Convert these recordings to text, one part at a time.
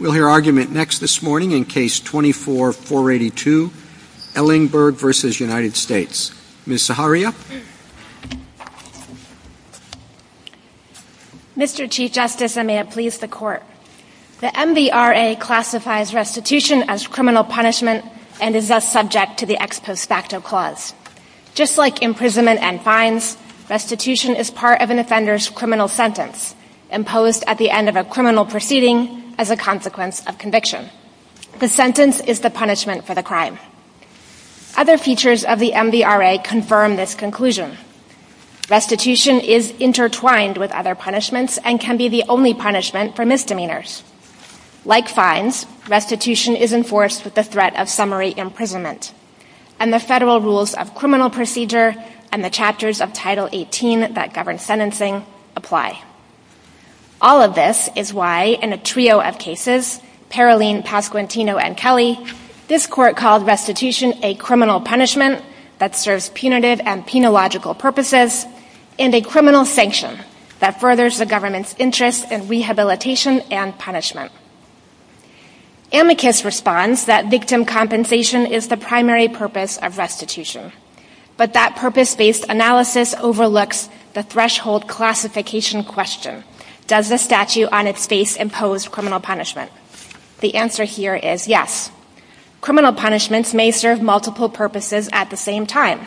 We'll hear argument next this morning in Case 24-482, Ellingburg v. United States. Ms. Zaharia? Mr. Chief Justice, and may it please the Court, The MVRA classifies restitution as criminal punishment and is thus subject to the Ex Post Facto Clause. Just like imprisonment and fines, restitution is part of an offender's criminal sentence, imposed at the end of a criminal proceeding as a consequence of conviction. The sentence is the punishment for the crime. Other features of the MVRA confirm this conclusion. Restitution is intertwined with other punishments and can be the only punishment for misdemeanors. Like fines, restitution is enforced with the threat of summary imprisonment. And the federal rules of criminal procedure and the chapters of Title 18 that govern sentencing apply. All of this is why, in a trio of cases, Paroline, Pasquantino, and Kelly, this Court called restitution a criminal punishment that serves punitive and penological purposes and a criminal sanction that furthers the government's interest in rehabilitation and punishment. Amicus responds that victim compensation is the primary purpose of restitution. But that purpose-based analysis overlooks the threshold classification question. Does the statute on its face impose criminal punishment? The answer here is yes. Criminal punishments may serve multiple purposes at the same time.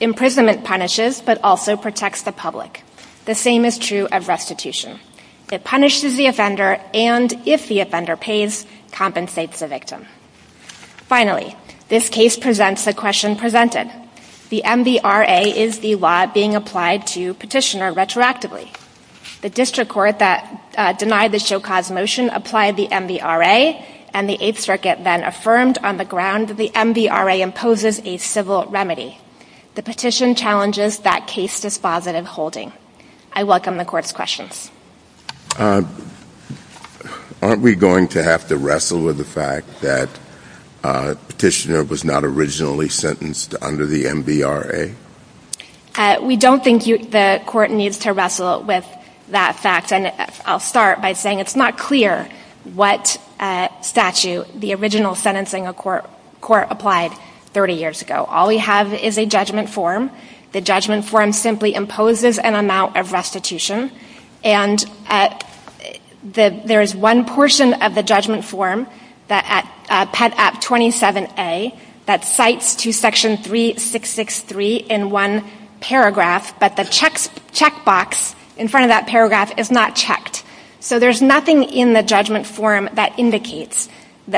Imprisonment punishes but also protects the public. The same is true of restitution. It punishes the offender and, if the offender pays, compensates the victim. Finally, this case presents the question presented. The MVRA is the law being applied to petitioner retroactively. The district court that denied the show-cause motion applied the MVRA, and the Eighth Circuit then affirmed on the ground that the MVRA imposes a civil remedy. The petition challenges that case dispositive holding. I welcome the Court's questions. Aren't we going to have to wrestle with the fact that petitioner was not originally sentenced under the MVRA? We don't think the Court needs to wrestle with that fact. And I'll start by saying it's not clear what statute the original sentencing of court applied 30 years ago. All we have is a judgment form. The judgment form simply imposes an amount of restitution, and there is one portion of the judgment form, Pet. App. 27A, that cites to Section 3663 in one paragraph, but the check box in front of that paragraph is not checked. So there's nothing in the judgment form that indicates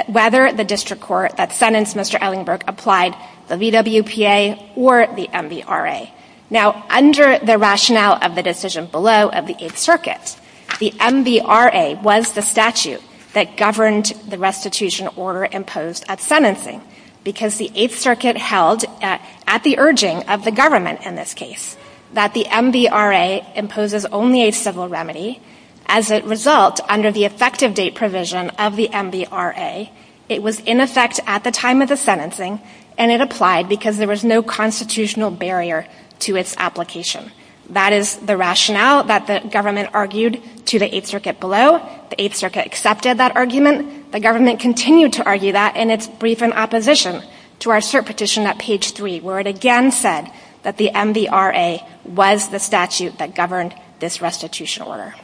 whether the district court that sentenced Mr. Ellingberg applied the VWPA or the MVRA. Now, under the rationale of the decision below of the Eighth Circuit, the MVRA was the statute that governed the restitution order imposed at sentencing, because the Eighth Circuit held at the urging of the government in this case that the MVRA imposes only a civil remedy. As a result, under the effective date provision of the MVRA, it was in effect at the time of the sentencing, and it applied because there was no constitutional barrier to its application. That is the rationale that the government argued to the Eighth Circuit below. The Eighth Circuit accepted that argument. The government continued to argue that in its brief in opposition to our cert petition at page 3, where it again said that the MVRA was the statute that governed this restitution order.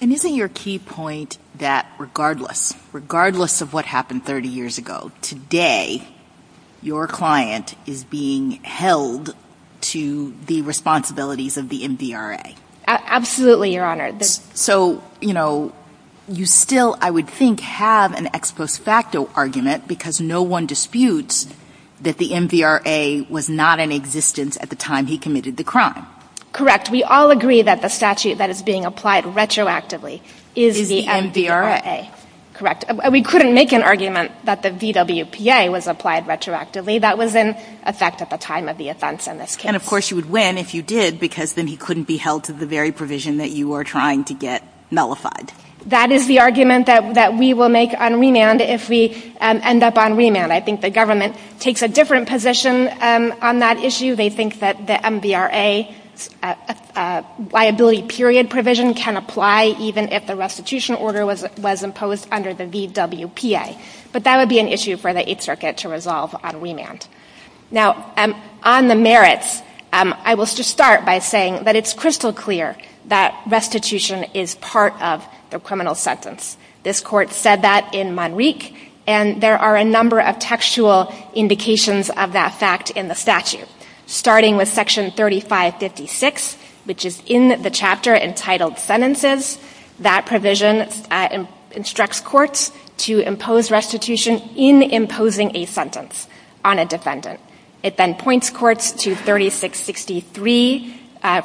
And isn't your key point that regardless, regardless of what happened 30 years ago, today your client is being held to the responsibilities of the MVRA? Absolutely, Your Honor. So, you know, you still, I would think, have an ex post facto argument because no one disputes that the MVRA was not in existence at the time he committed the crime. Correct. We all agree that the statute that is being applied retroactively is the MVRA. Is the MVRA. Correct. We couldn't make an argument that the VWPA was applied retroactively. That was in effect at the time of the offense in this case. And, of course, you would win if you did because then he couldn't be held to the very provision that you are trying to get nullified. That is the argument that we will make on remand if we end up on remand. I think the government takes a different position on that issue. They think that the MVRA liability period provision can apply even if the restitution order was imposed under the VWPA. But that would be an issue for the Eighth Circuit to resolve on remand. Now, on the merits, I will just start by saying that it's crystal clear that restitution is part of the criminal sentence. This Court said that in Monique, and there are a number of textual indications of that fact in the statute. Starting with Section 3556, which is in the chapter entitled Sentences, that provision instructs courts to impose restitution in imposing a sentence on a defendant. It then points courts to 3663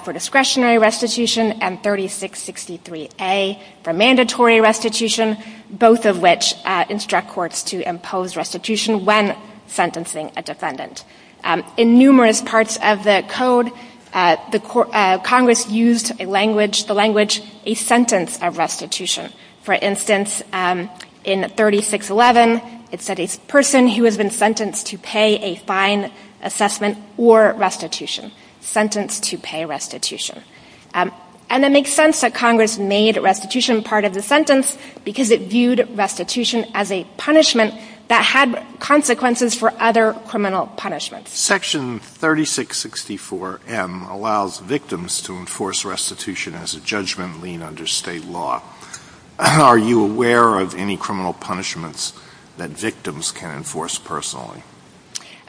for discretionary restitution and 3663A for mandatory restitution, both of which instruct courts to impose restitution when sentencing a defendant. In numerous parts of the Code, Congress used the language, a sentence of restitution. For instance, in 3611, it said a person who has been sentenced to pay a fine assessment or restitution. Sentenced to pay restitution. And it makes sense that Congress made restitution part of the sentence because it viewed restitution as a punishment that had consequences for other criminal punishments. Section 3664M allows victims to enforce restitution as a judgment lien under State law. Are you aware of any criminal punishments that victims can enforce personally?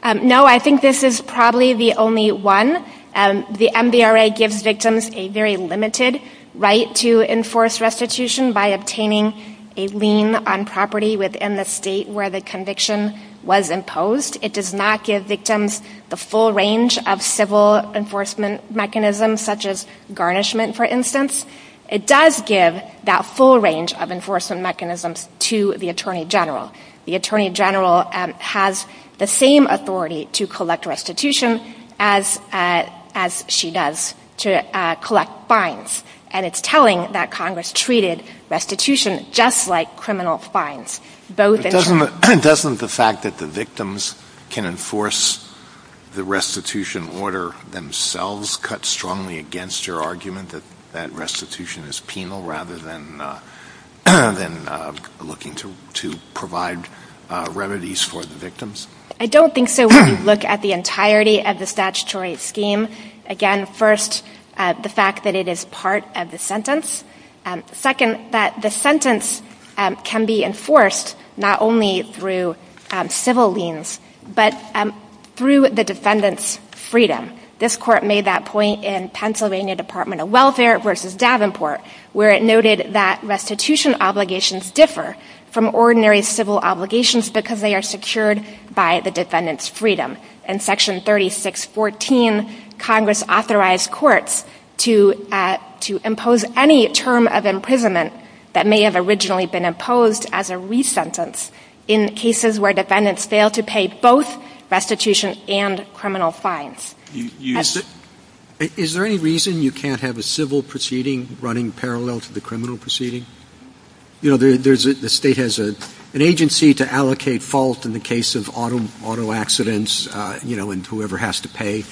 No. I think this is probably the only one. The MVRA gives victims a very limited right to enforce restitution by obtaining a lien on property within the State where the conviction was imposed. It does not give victims the full range of civil enforcement mechanisms, such as garnishment, for instance. It does give that full range of enforcement mechanisms to the attorney general. The attorney general has the same authority to collect restitution as she does to collect fines. And it's telling that Congress treated restitution just like criminal fines. Doesn't the fact that the victims can enforce the restitution order themselves cut strongly against your argument that that restitution is penal rather than looking to provide remedies for the victims? I don't think so when you look at the entirety of the statutory scheme. Again, first, the fact that it is part of the sentence. Second, that the sentence can be enforced not only through civil liens but through the defendant's freedom. This Court made that point in Pennsylvania Department of Welfare v. Davenport where it noted that restitution obligations differ from ordinary civil obligations because they are secured by the defendant's freedom. In Section 3614, Congress authorized courts to impose any term of imprisonment that may have originally been imposed as a resentence in cases where defendants fail to pay both restitution and criminal fines. Is there any reason you can't have a civil proceeding running parallel to the criminal proceeding? You know, the state has an agency to allocate fault in the case of auto accidents, you know, and whoever has to pay.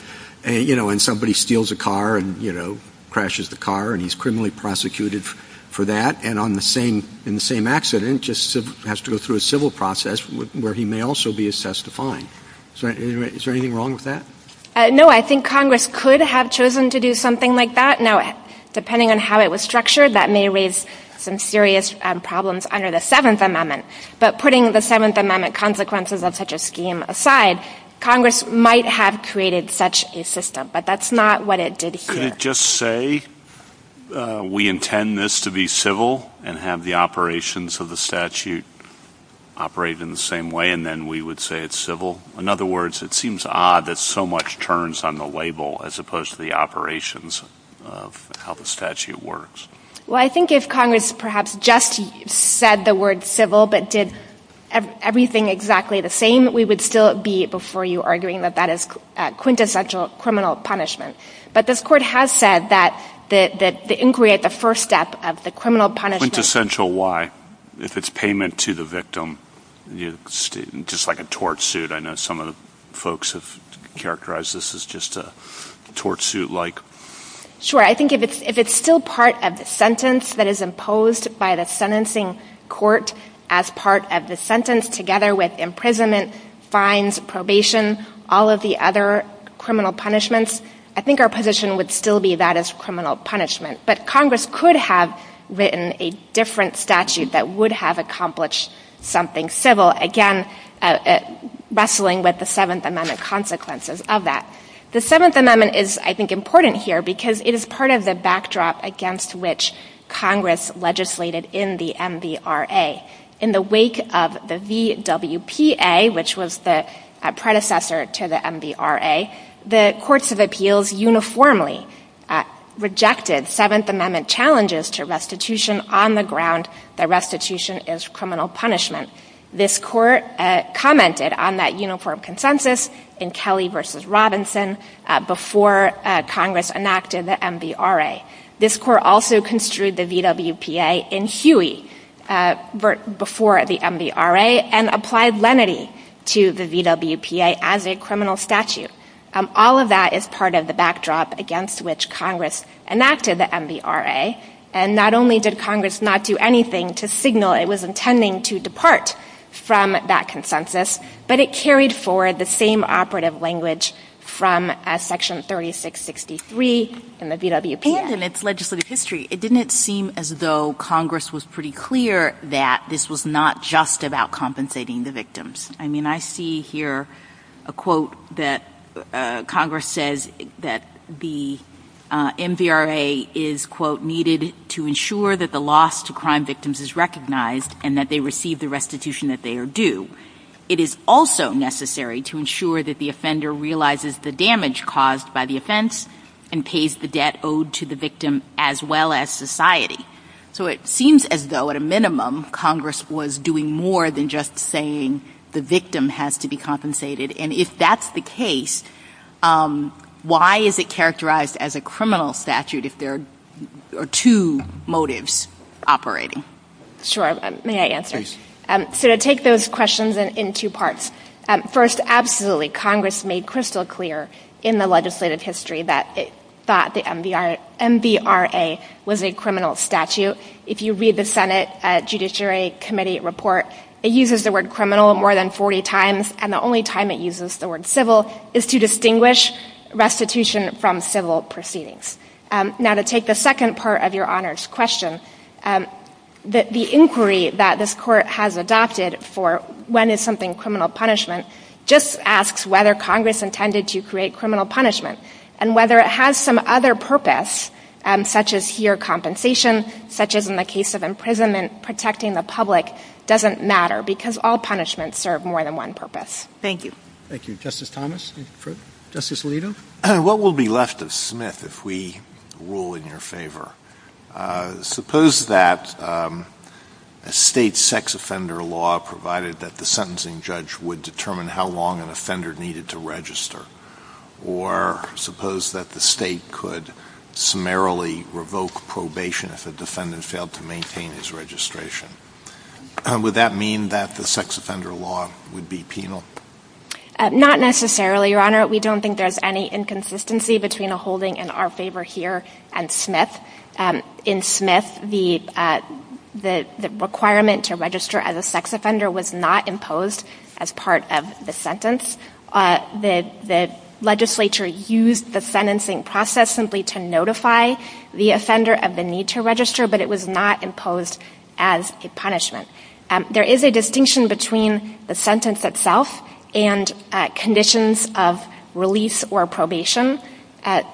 You know, when somebody steals a car and, you know, crashes the car and he's criminally prosecuted for that and in the same accident just has to go through a civil process where he may also be assessed a fine. Is there anything wrong with that? No, I think Congress could have chosen to do something like that. Now, depending on how it was structured, that may raise some serious problems under the Seventh Amendment. But putting the Seventh Amendment consequences of such a scheme aside, Congress might have created such a system. But that's not what it did here. Could it just say we intend this to be civil and have the operations of the statute operate in the same way and then we would say it's civil? In other words, it seems odd that so much turns on the label as opposed to the operations of how the statute works. Well, I think if Congress perhaps just said the word civil but did everything exactly the same, we would still be before you arguing that that is quintessential criminal punishment. But this Court has said that the inquiry at the first step of the criminal punishment Quintessential why? If it's payment to the victim, just like a tort suit. I know some of the folks have characterized this as just a tort suit-like. Sure. I think if it's still part of the sentence that is imposed by the sentencing court as part of the sentence, together with imprisonment, fines, probation, all of the other criminal punishments, I think our position would still be that is criminal punishment. But Congress could have written a different statute that would have accomplished something civil, again, wrestling with the Seventh Amendment consequences of that. The Seventh Amendment is, I think, important here because it is part of the backdrop against which Congress legislated in the MVRA. In the wake of the VWPA, which was the predecessor to the MVRA, the courts of appeals uniformly rejected Seventh Amendment challenges to restitution on the ground that restitution is criminal punishment. This Court commented on that uniform consensus in Kelly v. Robinson before Congress enacted the MVRA. This Court also construed the VWPA in Huey before the MVRA and applied lenity to the VWPA as a criminal statute. All of that is part of the backdrop against which Congress enacted the MVRA. And not only did Congress not do anything to signal it was intending to depart from that consensus, but it carried forward the same operative language from Section 3663 in the VWPA. And in its legislative history, it didn't seem as though Congress was pretty clear that this was not just about compensating the victims. I mean, I see here a quote that Congress says that the MVRA is, quote, needed to ensure that the loss to crime victims is recognized and that they receive the restitution that they are due. It is also necessary to ensure that the offender realizes the damage caused by the offense and pays the debt owed to the victim as well as society. So it seems as though, at a minimum, Congress was doing more than just saying the victim has to be compensated. And if that's the case, why is it characterized as a criminal statute if there are two motives operating? Sure. May I answer? Please. So to take those questions in two parts. First, absolutely, Congress made crystal clear in the legislative history that it thought the MVRA was a criminal statute. If you read the Senate Judiciary Committee report, it uses the word criminal more than 40 times, and the only time it uses the word civil is to distinguish restitution from civil proceedings. Now, to take the second part of Your Honor's question, the inquiry that this Court has adopted for when is something criminal punishment just asks whether Congress intended to create criminal punishment. And whether it has some other purpose, such as here compensation, such as in the case of imprisonment, protecting the public, doesn't matter because all punishments serve more than one purpose. Thank you. Thank you. Justice Thomas? Justice Alito? What will be left of Smith if we rule in your favor? Suppose that a state sex offender law provided that the sentencing judge would determine how long an offender needed to register, or suppose that the state could summarily revoke probation if a defendant failed to maintain his registration. Would that mean that the sex offender law would be penal? Not necessarily, Your Honor. We don't think there's any inconsistency between a holding in our favor here and Smith. In Smith, the requirement to register as a sex offender was not imposed as part of the sentence. The legislature used the sentencing process simply to notify the offender of the need to register, but it was not imposed as a punishment. There is a distinction between the sentence itself and conditions of release or probation.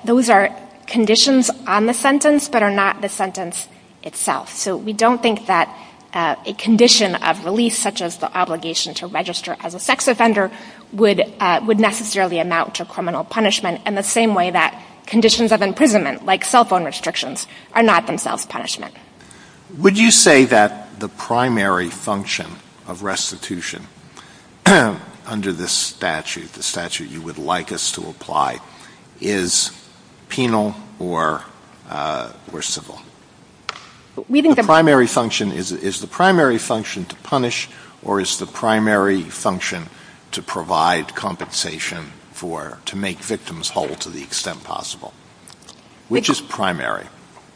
Those are conditions on the sentence but are not the sentence itself. So we don't think that a condition of release, such as the obligation to register as a sex offender, would necessarily amount to criminal punishment in the same way that conditions of imprisonment, like cell phone restrictions, are not themselves punishment. Would you say that the primary function of restitution under this statute, the statute you would like us to apply, is penal or civil? The primary function, is the primary function to punish, or is the primary function to provide compensation to make victims whole to the extent possible? Which is primary?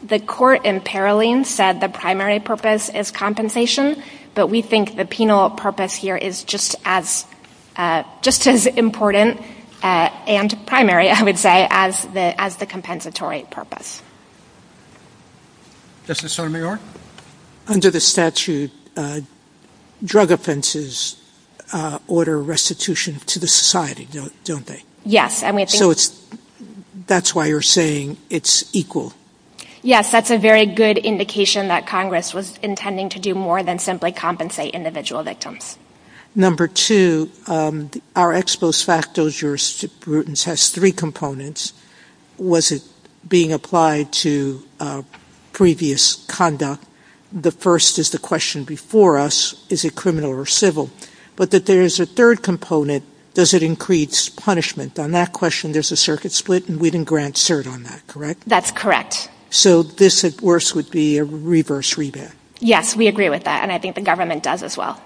The court in Paroline said the primary purpose is compensation, but we think the penal purpose here is just as important and primary, I would say, as the compensatory purpose. Justice Sotomayor? Under the statute, drug offenses order restitution to the society, don't they? Yes. So that's why you're saying it's equal? Yes, that's a very good indication that Congress was intending to do more than simply compensate individual victims. Number two, our ex post facto jurisprudence has three components. Was it being applied to previous conduct? The first is the question before us, is it criminal or civil? But that there's a third component, does it increase punishment? On that question, there's a circuit split, and we didn't grant cert on that, correct? That's correct. So this, at worst, would be a reverse rebate? Yes, we agree with that, and I think the government does as well.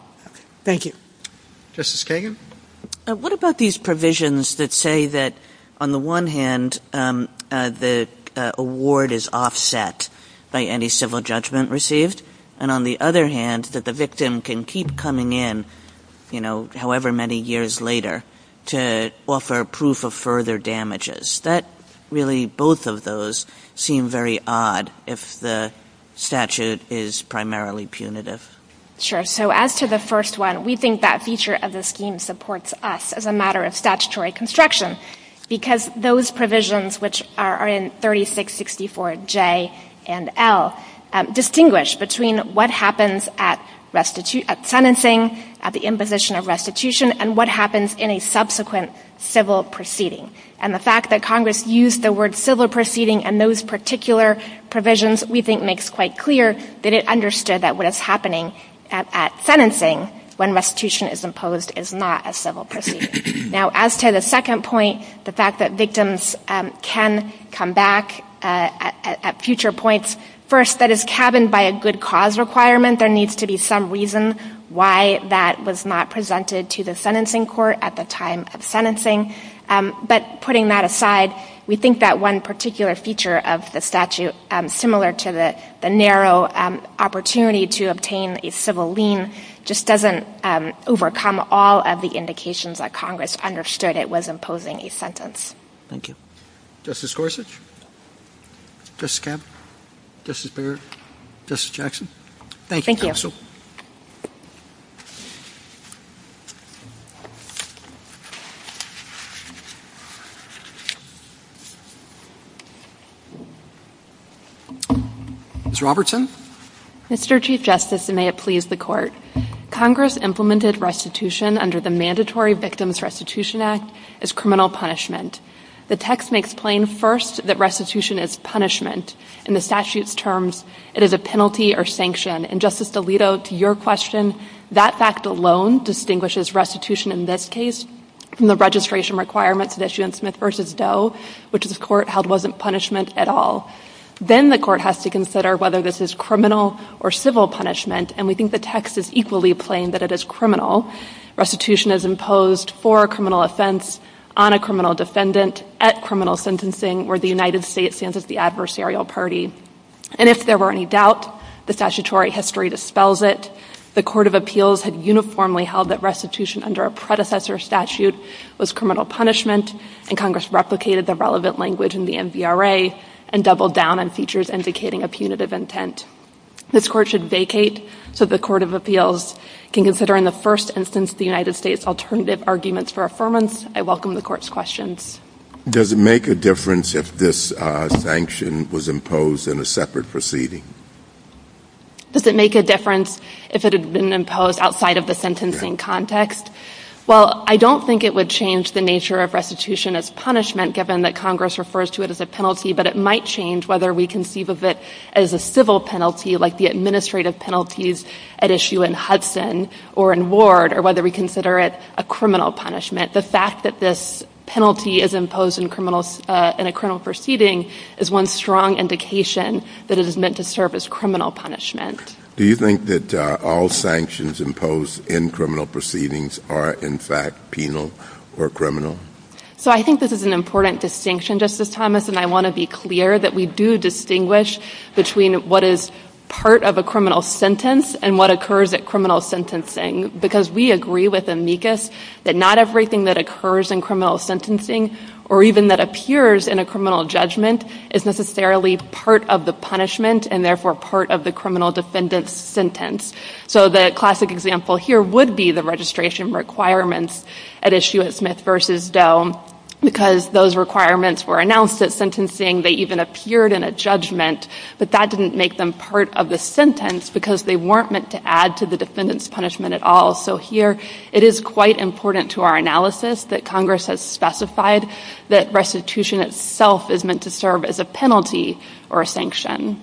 Thank you. Justice Kagan? What about these provisions that say that, on the one hand, the award is offset by any civil judgment received, and on the other hand, that the victim can keep coming in, you know, however many years later, to offer proof of further damages? That really, both of those seem very odd if the statute is primarily punitive. Sure. So as to the first one, we think that feature of the scheme supports us as a matter of statutory construction, because those provisions, which are in 3664J and L, distinguish between what happens at sentencing, at the imposition of restitution, and what happens in a subsequent civil proceeding. And the fact that Congress used the word civil proceeding and those particular provisions, we think makes quite clear that it understood that what is happening at sentencing, when restitution is imposed, is not a civil proceeding. Now, as to the second point, the fact that victims can come back at future points, first, that is cabined by a good cause requirement. There needs to be some reason why that was not presented to the sentencing court at the time of sentencing. But putting that aside, we think that one particular feature of the statute, similar to the narrow opportunity to obtain a civil lien, just doesn't overcome all of the indications that Congress understood it was imposing a sentence. Thank you. Justice Gorsuch? Justice Kavanaugh? Justice Barrett? Justice Jackson? Thank you, Counsel. Thank you. Ms. Robertson? Mr. Chief Justice, and may it please the Court, Congress implemented restitution under the Mandatory Victims Restitution Act as criminal punishment. The text makes plain, first, that restitution is punishment. In the statute's terms, it is a penalty or sanction. And, Justice DeLito, to your question, that fact alone distinguishes restitution in this case from the registration requirements that issue in Smith v. Doe, which this Court held wasn't punishment at all. Then the Court has to consider whether this is criminal or civil punishment, and we think the text is equally plain that it is criminal. Restitution is imposed for a criminal offense on a criminal defendant at criminal sentencing where the United States stands as the adversarial party. And if there were any doubt, the statutory history dispels it. The Court of Appeals had uniformly held that restitution under a predecessor statute was criminal punishment, and Congress replicated the relevant language in the MVRA and doubled down on features indicating a punitive intent. This Court should vacate so the Court of Appeals can consider in the first instance the United States' alternative arguments for affirmance. I welcome the Court's questions. Does it make a difference if this sanction was imposed in a separate proceeding? Does it make a difference if it had been imposed outside of the sentencing context? Well, I don't think it would change the nature of restitution as punishment given that Congress refers to it as a penalty, but it might change whether we conceive of it as a civil penalty like the administrative penalties at issue in Hudson or in Ward or whether we consider it a criminal punishment. The fact that this penalty is imposed in a criminal proceeding is one strong indication that it is meant to serve as criminal punishment. Do you think that all sanctions imposed in criminal proceedings are in fact penal or criminal? So I think this is an important distinction, Justice Thomas, and I want to be clear that we do distinguish between what is part of a criminal sentence and what occurs at criminal sentencing because we agree with amicus that not everything that occurs in criminal sentencing or even that appears in a criminal judgment is necessarily part of the punishment and therefore part of the criminal defendant's sentence. So the classic example here would be the registration requirements at issue at Smith v. Doe because those requirements were announced at sentencing. They even appeared in a judgment, but that didn't make them part of the sentence because they weren't meant to add to the defendant's punishment at all. So here it is quite important to our analysis that Congress has specified that restitution itself is meant to serve as a penalty or a sanction.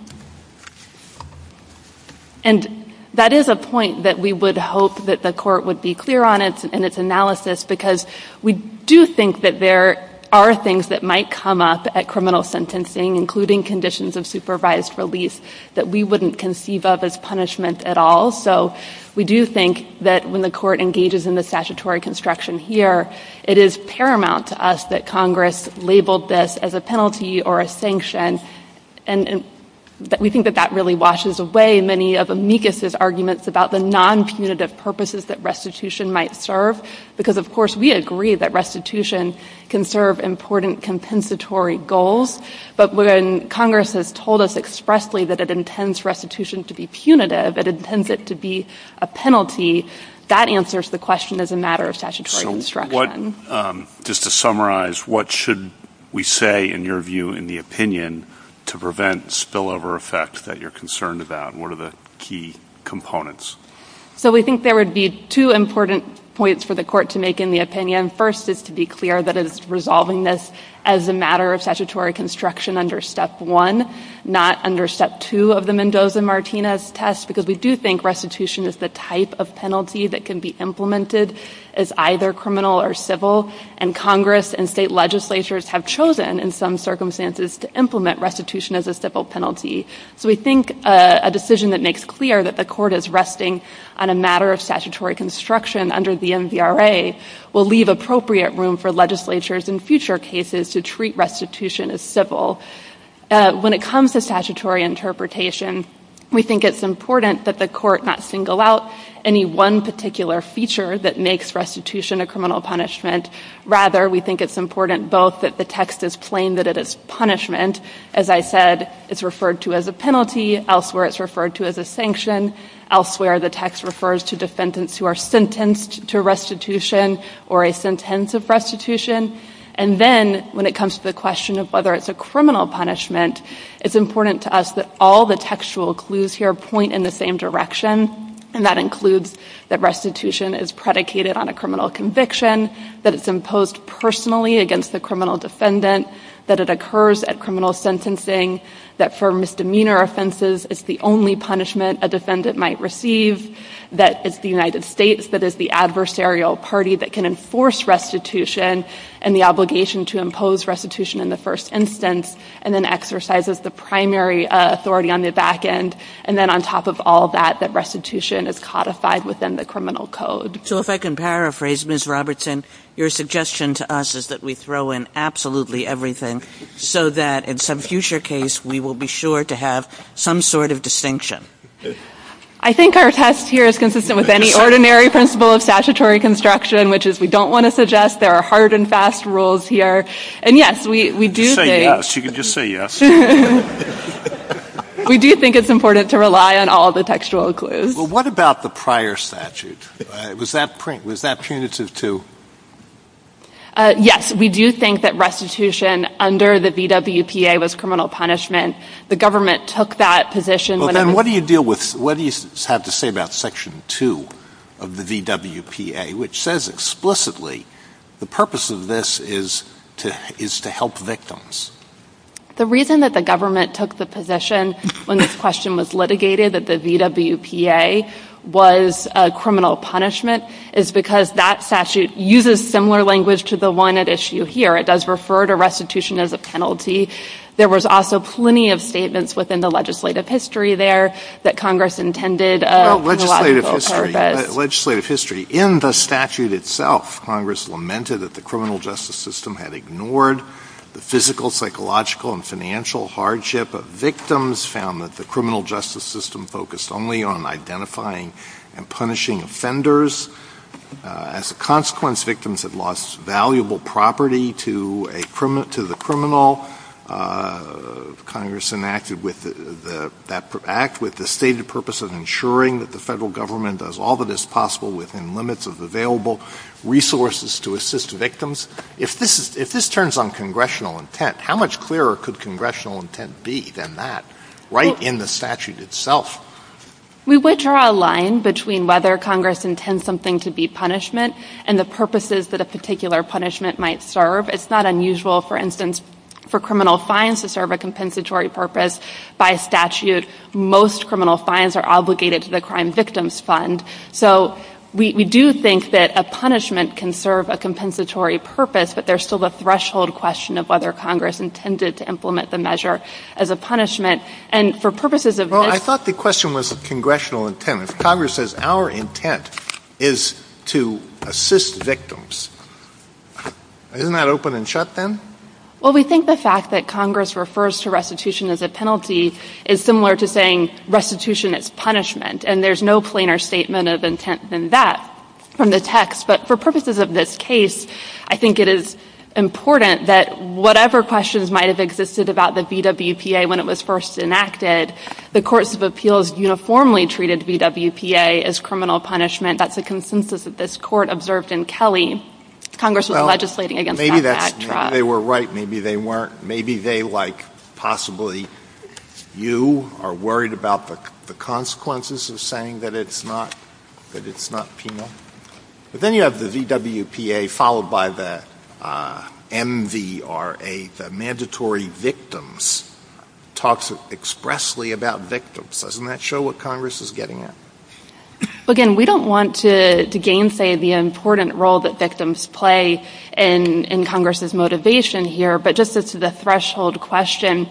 And that is a point that we would hope that the Court would be clear on in its analysis because we do think that there are things that might come up at criminal sentencing, including conditions of supervised release, that we wouldn't conceive of as punishment at all. So we do think that when the Court engages in the statutory construction here, it is paramount to us that Congress labeled this as a penalty or a sanction. And we think that that really washes away many of amicus' arguments about the non-punitive purposes that restitution might serve because, of course, we agree that restitution can serve important compensatory goals. But when Congress has told us expressly that it intends restitution to be punitive, it intends it to be a penalty, that answers the question as a matter of statutory construction. So just to summarize, what should we say, in your view, in the opinion to prevent spillover effect that you're concerned about? What are the key components? So we think there would be two important points for the Court to make in the opinion. First is to be clear that it is resolving this as a matter of statutory construction under Step 1, not under Step 2 of the Mendoza-Martinez test because we do think restitution is the type of penalty that can be implemented as either criminal or civil. And Congress and state legislatures have chosen, in some circumstances, to implement restitution as a civil penalty. So we think a decision that makes clear that the Court is resting on a matter of statutory construction under the MVRA will leave appropriate room for legislatures in future cases to treat restitution as civil. When it comes to statutory interpretation, we think it's important that the Court not single out any one particular feature that makes restitution a criminal punishment. Rather, we think it's important both that the text is plain that it is punishment. As I said, it's referred to as a penalty. Elsewhere, it's referred to as a sanction. Elsewhere, the text refers to defendants who are sentenced to restitution or a sentence of restitution. And then, when it comes to the question of whether it's a criminal punishment, it's important to us that all the textual clues here point in the same direction, and that includes that restitution is predicated on a criminal conviction, that it's imposed personally against the criminal defendant, that it occurs at criminal sentencing, that for misdemeanor offenses, it's the only punishment a defendant might receive, that it's the United States that is the adversarial party that can enforce restitution and the obligation to impose restitution in the first instance, and then exercises the primary authority on the back end. And then, on top of all that, that restitution is codified within the criminal code. So if I can paraphrase, Ms. Robertson, your suggestion to us is that we throw in absolutely everything so that in some future case, we will be sure to have some sort of distinction. I think our test here is consistent with any ordinary principle of statutory construction, which is we don't want to suggest there are hard and fast rules here. And, yes, we do think — Say yes. You can just say yes. We do think it's important to rely on all the textual clues. Well, what about the prior statute? Was that punitive to — Yes, we do think that restitution under the VWPA was criminal punishment. The government took that position when it was — The purpose of this is to help victims. The reason that the government took the position when this question was litigated, that the VWPA was criminal punishment, is because that statute uses similar language to the one at issue here. It does refer to restitution as a penalty. There was also plenty of statements within the legislative history there that Congress intended for a logical purpose. Well, legislative history. Legislative history. In the statute itself, Congress lamented that the criminal justice system had ignored the physical, psychological, and financial hardship of victims, found that the criminal justice system focused only on identifying and punishing offenders. As a consequence, victims had lost valuable property to the criminal. Congress enacted that act with the stated purpose of ensuring that the Federal Government does all that is possible within limits of available resources to assist victims. If this is — if this turns on congressional intent, how much clearer could congressional intent be than that, right in the statute itself? We would draw a line between whether Congress intends something to be punishment and the purposes that a particular punishment might serve. It's not unusual, for instance, for criminal fines to serve a compensatory purpose. By statute, most criminal fines are obligated to the Crime Victims Fund. So we do think that a punishment can serve a compensatory purpose, but there's still the threshold question of whether Congress intended to implement the measure as a punishment. And for purposes of this — Well, I thought the question was congressional intent. If Congress says our intent is to assist victims, isn't that open and shut then? Well, we think the fact that Congress refers to restitution as a penalty is similar to saying restitution is punishment. And there's no plainer statement of intent than that from the text. But for purposes of this case, I think it is important that whatever questions might have existed about the VWPA when it was first enacted, the courts of appeals uniformly treated VWPA as criminal punishment. That's the consensus that this Court observed in Kelly. Congress was legislating against that backdrop. Well, maybe that's — maybe they were right, maybe they weren't. Maybe they, like possibly you, are worried about the consequences of saying that it's not, that it's not penal. But then you have the VWPA followed by the MVRA, the mandatory victims, talks expressly about victims. Doesn't that show what Congress is getting at? Again, we don't want to gainsay the important role that victims play in Congress's motivation here. But just as to the threshold question,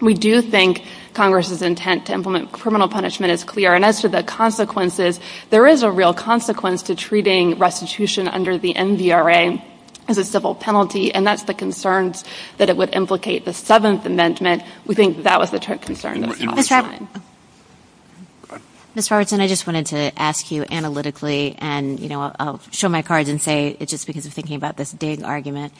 we do think Congress's intent to implement criminal punishment is clear. And as to the consequences, there is a real consequence to treating restitution under the MVRA as a civil penalty, and that's the concerns that it would implicate the Seventh Amendment. We think that was the concern. Ms. Robertson. Ms. Robertson, I just wanted to ask you analytically, and, you know, I'll show my cards and say it's just because of thinking about this Digg argument.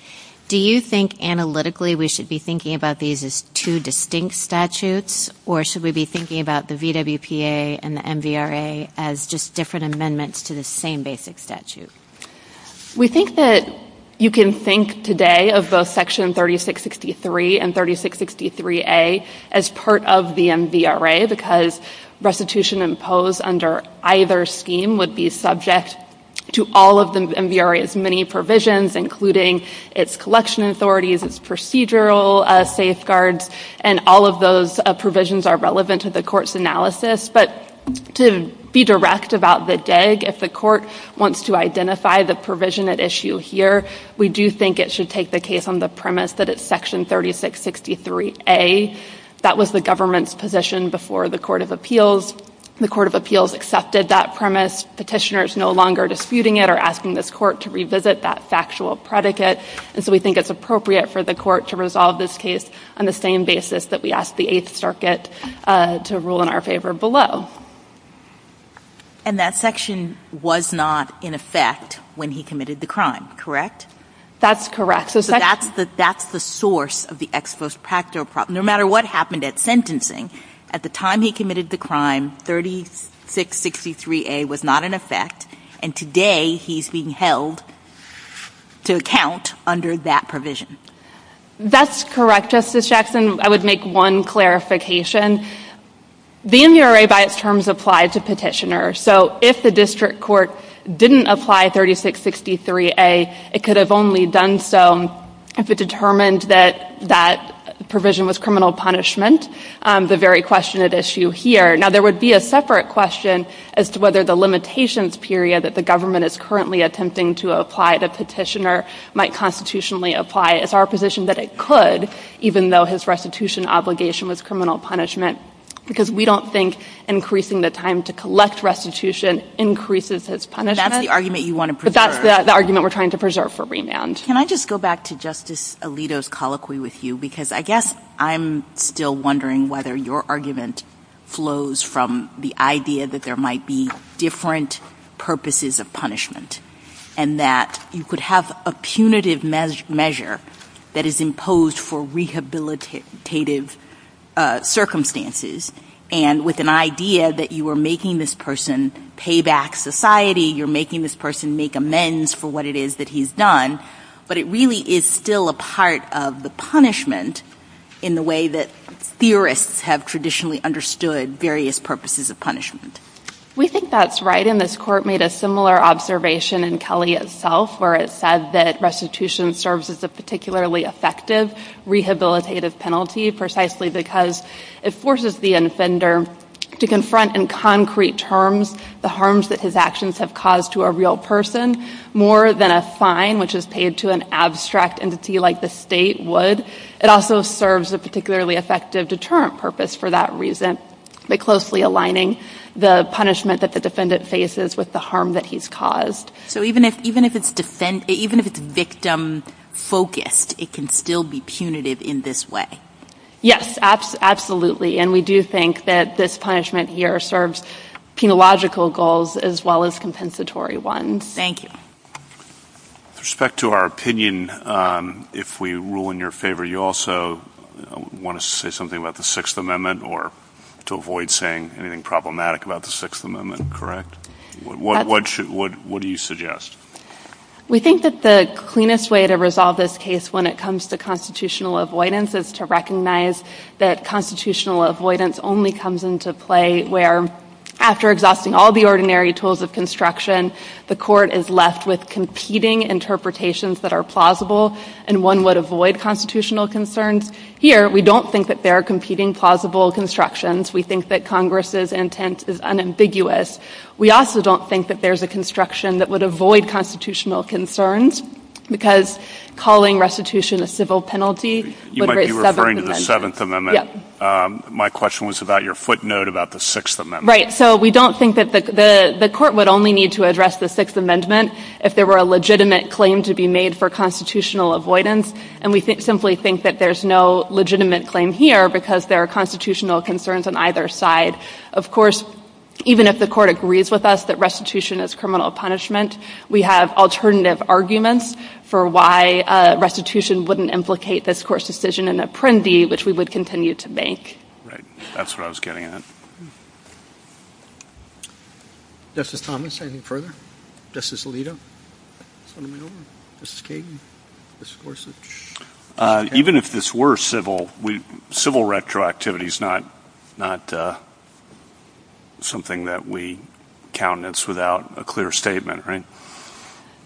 Do you think analytically we should be thinking about these as two distinct statutes, or should we be thinking about the VWPA and the MVRA as just different amendments to the same basic statute? We think that you can think today of both Section 3663 and 3663A as part of the MVRA because restitution imposed under either scheme would be subject to all of the MVRA's many provisions, including its collection authorities, its procedural safeguards, and all of those provisions are relevant to the Court's analysis. But to be direct about the Digg, if the Court wants to identify the provision at issue here, we do think it should take the case on the premise that it's Section 3663A. That was the government's position before the Court of Appeals. The Court of Appeals accepted that premise. Petitioners no longer disputing it or asking this Court to revisit that factual predicate. And so we think it's appropriate for the Court to resolve this case on the same basis that we asked the Eighth Circuit to rule in our favor below. And that section was not in effect when he committed the crime, correct? That's correct. So that's the source of the ex post facto problem. No matter what happened at sentencing, at the time he committed the crime, 3663A was not in effect, and today he's being held to account under that provision. That's correct, Justice Jackson. I would make one clarification. The MURA by its terms applied to petitioners. So if the district court didn't apply 3663A, it could have only done so if it determined that that provision was criminal punishment, the very question at issue here. Now there would be a separate question as to whether the limitations period that the government is currently attempting to apply to petitioner might constitutionally apply. It's our position that it could, even though his restitution obligation was criminal punishment, because we don't think increasing the time to collect restitution increases his punishment. That's the argument you want to preserve. But that's the argument we're trying to preserve for remand. Can I just go back to Justice Alito's colloquy with you? Because I guess I'm still wondering whether your argument flows from the idea that there might be different purposes of punishment, and that you could have a punitive measure that is imposed for rehabilitative circumstances. And with an idea that you are making this person pay back society, you're making this person make amends for what it is that he's done. But it really is still a part of the punishment in the way that theorists have traditionally understood various purposes of punishment. We think that's right. And this Court made a similar observation in Kelly itself, where it said that restitution serves as a particularly effective rehabilitative penalty precisely because it forces the offender to confront in concrete terms the harms that his actions have caused to a real person more than a fine, which is paid to an abstract entity like the state, would. It also serves a particularly effective deterrent purpose for that reason by facing with the harm that he's caused. So even if it's victim-focused, it can still be punitive in this way? Yes, absolutely. And we do think that this punishment here serves penological goals as well as compensatory ones. Thank you. With respect to our opinion, if we rule in your favor, you also want to say something about the Sixth Amendment or to avoid saying anything problematic about the Sixth Amendment, correct? What do you suggest? We think that the cleanest way to resolve this case when it comes to constitutional avoidance is to recognize that constitutional avoidance only comes into play where, after exhausting all the ordinary tools of construction, the court is left with competing interpretations that are plausible and one would avoid constitutional concerns. Here, we don't think that there are competing plausible constructions. We think that Congress's intent is unambiguous. We also don't think that there's a construction that would avoid constitutional concerns because calling restitution a civil penalty would raise seven amendments. You might be referring to the Seventh Amendment. Yes. My question was about your footnote about the Sixth Amendment. Right. So we don't think that the court would only need to address the Sixth Amendment if there were a legitimate claim to be made for constitutional avoidance, and we simply think that there's no legitimate claim here because there are constitutional concerns on either side. Of course, even if the court agrees with us that restitution is criminal punishment, we have alternative arguments for why restitution wouldn't implicate this Court's decision in Apprendi, which we would continue to make. Right. That's what I was getting at. Justice Thomas, anything further? Justice Alito? Senator Minowa? Justice Kagan? Justice Gorsuch? Even if this were civil, civil retroactivity is not something that we countenance without a clear statement, right?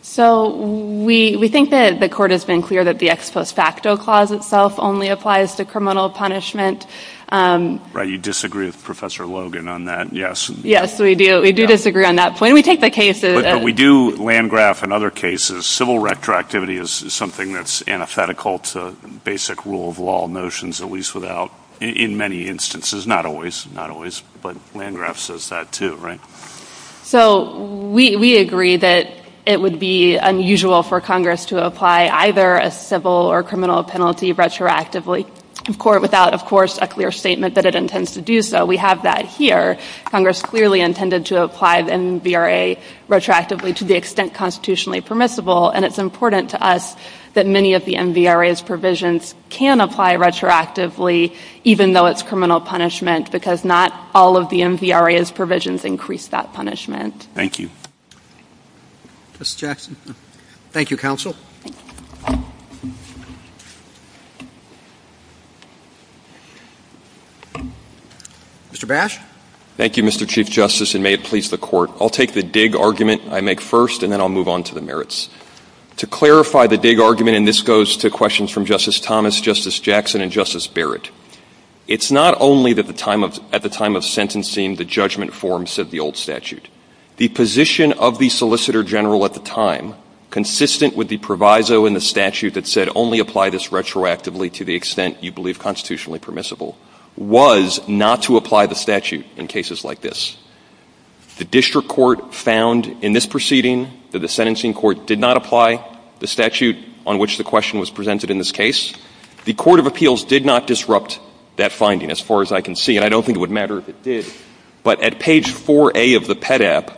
So we think that the court has been clear that the ex post facto clause itself only applies to criminal punishment. Right. You disagree with Professor Logan on that. Yes, we do. We do disagree on that point. We take the case as… But we do, Landgraf, in other cases, civil retroactivity is something that's antithetical to basic rule of law notions, at least without, in many instances, not always, not always, but Landgraf says that too, right? So we agree that it would be unusual for Congress to apply either a civil or criminal penalty retroactively without, of course, a clear statement that it intends to do so. We have that here. Congress clearly intended to apply the MVRA retroactively to the extent constitutionally permissible, and it's important to us that many of the MVRA's provisions can apply retroactively even though it's criminal punishment because not all of the MVRA's provisions increase that punishment. Thank you. Justice Jackson? Thank you, counsel. Thank you. Mr. Bash? Thank you, Mr. Chief Justice, and may it please the Court. I'll take the Digg argument I make first, and then I'll move on to the merits. To clarify the Digg argument, and this goes to questions from Justice Thomas, Justice Jackson, and Justice Barrett, it's not only that at the time of sentencing the judgment form said the old statute. The position of the Solicitor General at the time, consistent with the proviso in the statute that said only apply this retroactively to the extent you believe constitutionally permissible, was not to apply the statute in cases like this. The district court found in this proceeding that the sentencing court did not apply the statute on which the question was presented in this case. The court of appeals did not disrupt that finding as far as I can see, and I don't think it would matter if it did. But at page 4A of the PEDAP,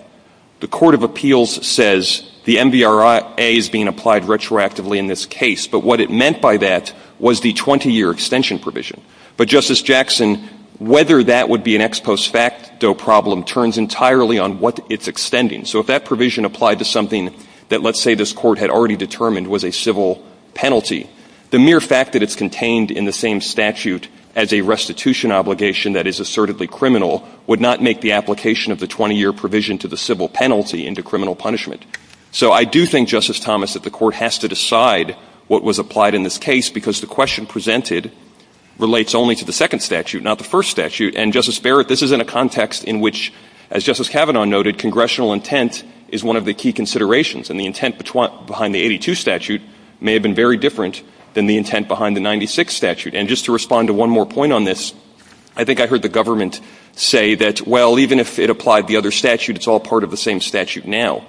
the court of appeals says the MVRA is being applied retroactively in this case, but what it meant by that was the 20-year extension provision. But, Justice Jackson, whether that would be an ex post facto problem turns entirely on what it's extending. So if that provision applied to something that, let's say, this Court had already determined was a civil penalty, the mere fact that it's contained in the same statute as a restitution obligation that is assertedly criminal would not make the application of the 20-year provision to the civil penalty into criminal punishment. So I do think, Justice Thomas, that the Court has to decide what was applied in this case, because the question presented relates only to the second statute, not the first statute. And, Justice Barrett, this is in a context in which, as Justice Kavanaugh noted, congressional intent is one of the key considerations, and the intent behind the 82 statute may have been very different than the intent behind the 96 statute. And just to respond to one more point on this, I think I heard the government say that, well, even if it applied the other statute, it's all part of the same statute now.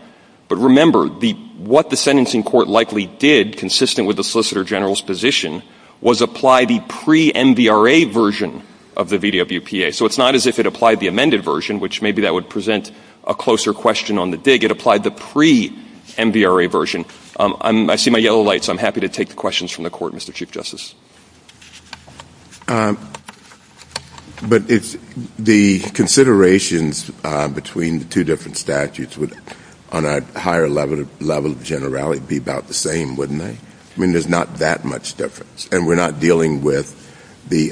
But remember, what the sentencing court likely did, consistent with the Solicitor General's position, was apply the pre-MVRA version of the VWPA. So it's not as if it applied the amended version, which maybe that would present a closer question on the dig. It applied the pre-MVRA version. I see my yellow light, so I'm happy to take the questions from the Court, Mr. Chief Justice. But the considerations between the two different statutes would, on a higher level of generality, be about the same, wouldn't they? I mean, there's not that much difference. And we're not dealing with the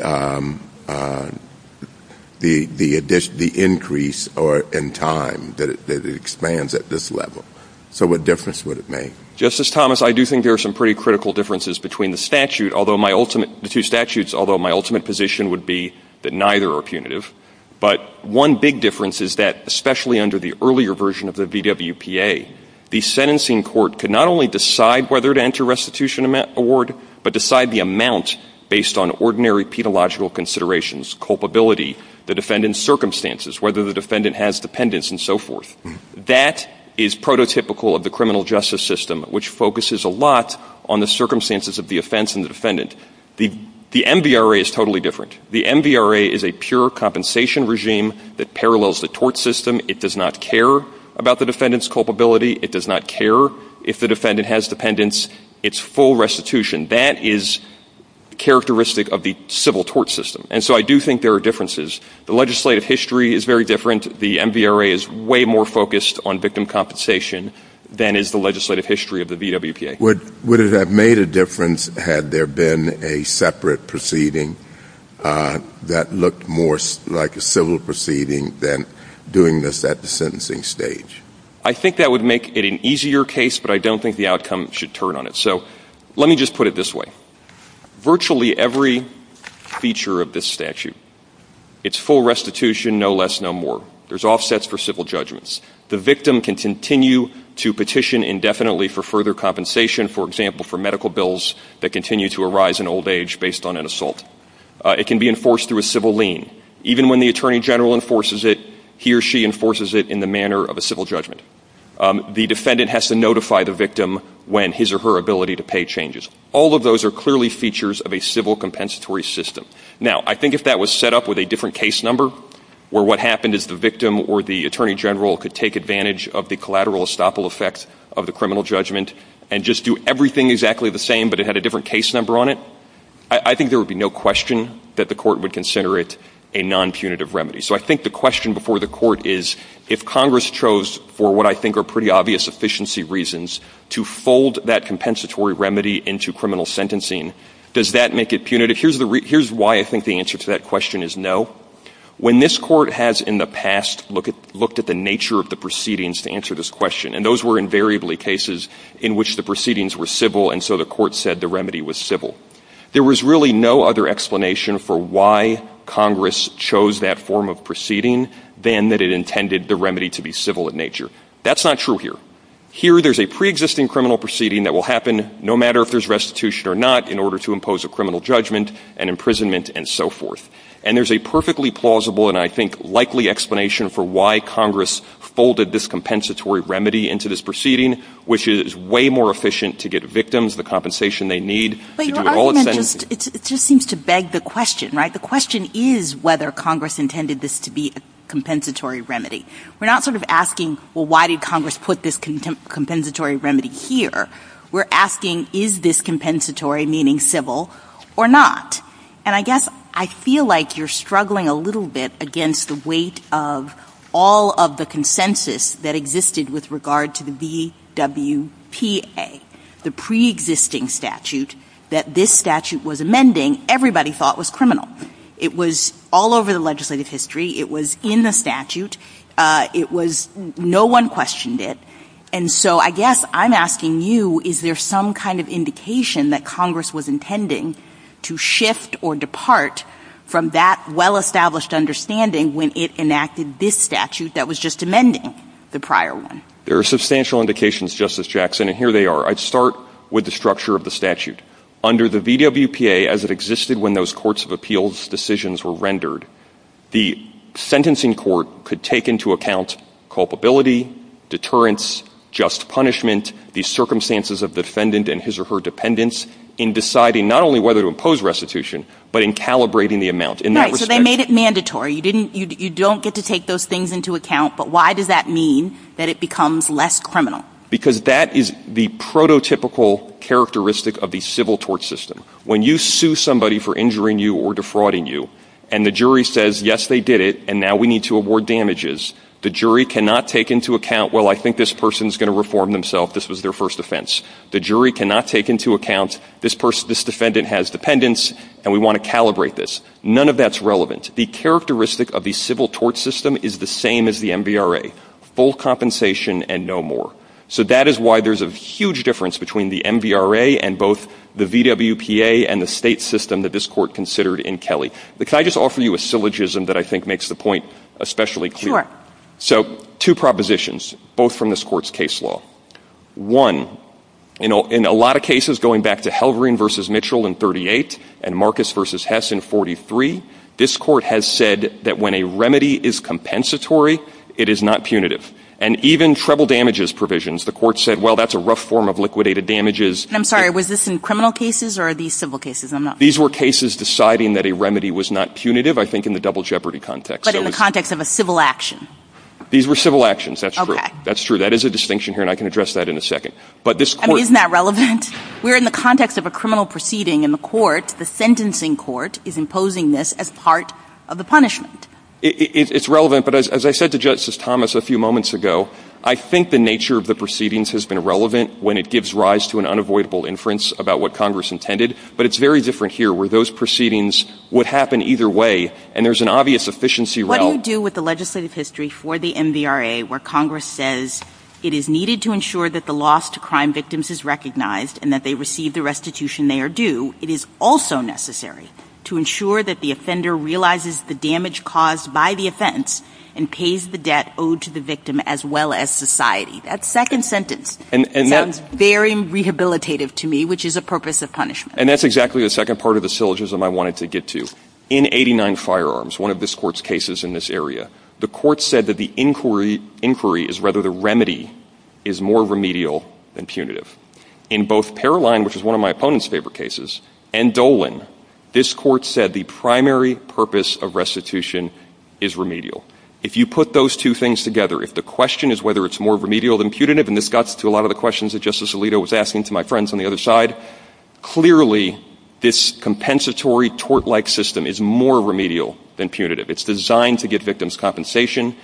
increase in time that expands at this level. So what difference would it make? Justice Thomas, I do think there are some pretty critical differences between the statute. The two statutes, although my ultimate position would be that neither are punitive. But one big difference is that, especially under the earlier version of the VWPA, the sentencing court could not only decide whether to enter restitution award, but decide the amount based on ordinary pedagogical considerations, culpability, the defendant's circumstances, whether the defendant has dependents and so forth. That is prototypical of the criminal justice system, which focuses a lot on the defendant. The MVRA is totally different. The MVRA is a pure compensation regime that parallels the tort system. It does not care about the defendant's culpability. It does not care if the defendant has dependents. It's full restitution. That is characteristic of the civil tort system. And so I do think there are differences. The legislative history is very different. The MVRA is way more focused on victim compensation than is the legislative history of the VWPA. Would it have made a difference had there been a separate proceeding that looked more like a civil proceeding than doing this at the sentencing stage? I think that would make it an easier case, but I don't think the outcome should turn on it. So let me just put it this way. Virtually every feature of this statute, it's full restitution, no less, no more. There's offsets for civil judgments. The victim can continue to petition indefinitely for further compensation, for example, for medical bills that continue to arise in old age based on an It can be enforced through a civil lien. Even when the attorney general enforces it, he or she enforces it in the manner of a civil judgment. The defendant has to notify the victim when his or her ability to pay changes. All of those are clearly features of a civil compensatory system. Now, I think if that was set up with a different case number, where what could take advantage of the collateral estoppel effect of the criminal judgment and just do everything exactly the same, but it had a different case number on it, I think there would be no question that the Court would consider it a nonpunitive remedy. So I think the question before the Court is, if Congress chose, for what I think are pretty obvious efficiency reasons, to fold that compensatory remedy into criminal sentencing, does that make it punitive? Here's why I think the answer to that question is no. When this Court has in the past looked at the nature of the proceedings to answer this question, and those were invariably cases in which the proceedings were civil and so the Court said the remedy was civil, there was really no other explanation for why Congress chose that form of proceeding than that it intended the remedy to be civil in nature. That's not true here. Here there's a preexisting criminal proceeding that will happen no matter if there's restitution or not in order to impose a criminal judgment and imprisonment and so forth. And there's a perfectly plausible and I think likely explanation for why Congress folded this compensatory remedy into this proceeding, which is way more efficient to get victims the compensation they need to do it all at once. But your argument just seems to beg the question, right? The question is whether Congress intended this to be a compensatory remedy. We're not sort of asking, well, why did Congress put this compensatory remedy here? We're asking, is this compensatory, meaning civil, or not? And I guess I feel like you're struggling a little bit against the weight of all of the consensus that existed with regard to the VWPA, the preexisting statute that this statute was amending everybody thought was criminal. It was all over the legislative history. It was in the statute. It was no one questioned it. And so I guess I'm asking you, is there some kind of indication that Congress was intending to shift or depart from that well-established understanding when it enacted this statute that was just amending the prior one? There are substantial indications, Justice Jackson, and here they are. I'd start with the structure of the statute. Under the VWPA, as it existed when those courts of appeals decisions were rendered, the sentencing court could take into account culpability, deterrence, just punishment, the circumstances of the defendant and his or her dependents in deciding not only whether to impose restitution, but in calibrating the amount in that respect. So they made it mandatory. You don't get to take those things into account. But why does that mean that it becomes less criminal? Because that is the prototypical characteristic of the civil tort system. When you sue somebody for injuring you or defrauding you, and the jury says, yes, they did it, and now we need to award damages, the jury cannot take into account, well, I think this person is going to reform themselves. This was their first offense. The jury cannot take into account this defendant has dependents, and we want to calibrate this. None of that's relevant. The characteristic of the civil tort system is the same as the MVRA, full compensation and no more. So that is why there's a huge difference between the MVRA and both the VWPA and the state system that this Court considered in Kelly. Can I just offer you a syllogism that I think makes the point especially clear? Sure. So two propositions, both from this Court's case law. One, in a lot of cases, going back to Halvorin v. Mitchell in 38 and Marcus v. Hess in 43, this Court has said that when a remedy is compensatory, it is not punitive. And even treble damages provisions, the Court said, well, that's a rough form of liquidated damages. I'm sorry. Was this in criminal cases or are these civil cases? I'm not familiar. These were cases deciding that a remedy was not punitive, I think, in the double jeopardy context. But in the context of a civil action? These were civil actions, that's true. Okay. That's true. That is a distinction here, and I can address that in a second. But this Court — I mean, isn't that relevant? We're in the context of a criminal proceeding, and the court, the sentencing court, is imposing this as part of the punishment. It's relevant. But as I said to Justice Thomas a few moments ago, I think the nature of the proceedings has been relevant when it gives rise to an unavoidable inference about what Congress intended, but it's very different here where those proceedings would happen either way, and there's an obvious efficiency route. What do you do with the legislative history for the MVRA where Congress says it is needed to ensure that the loss to crime victims is recognized and that they receive the restitution they are due? It is also necessary to ensure that the offender realizes the damage caused by the offense and pays the debt owed to the victim as well as society. That second sentence sounds very rehabilitative to me, which is a purpose of punishment. And that's exactly the second part of the syllogism I wanted to get to. In 89 Firearms, one of this Court's cases in this area, the Court said that the inquiry is rather the remedy is more remedial than punitive. In both Paroline, which is one of my opponent's favorite cases, and Dolan, this Court said the primary purpose of restitution is remedial. If you put those two things together, if the question is whether it's more remedial than punitive, and this got to a lot of the questions that Justice Alito was asking to my friends on the other side, clearly this compensatory tort-like system is more remedial than punitive. It's designed to get victims' compensation.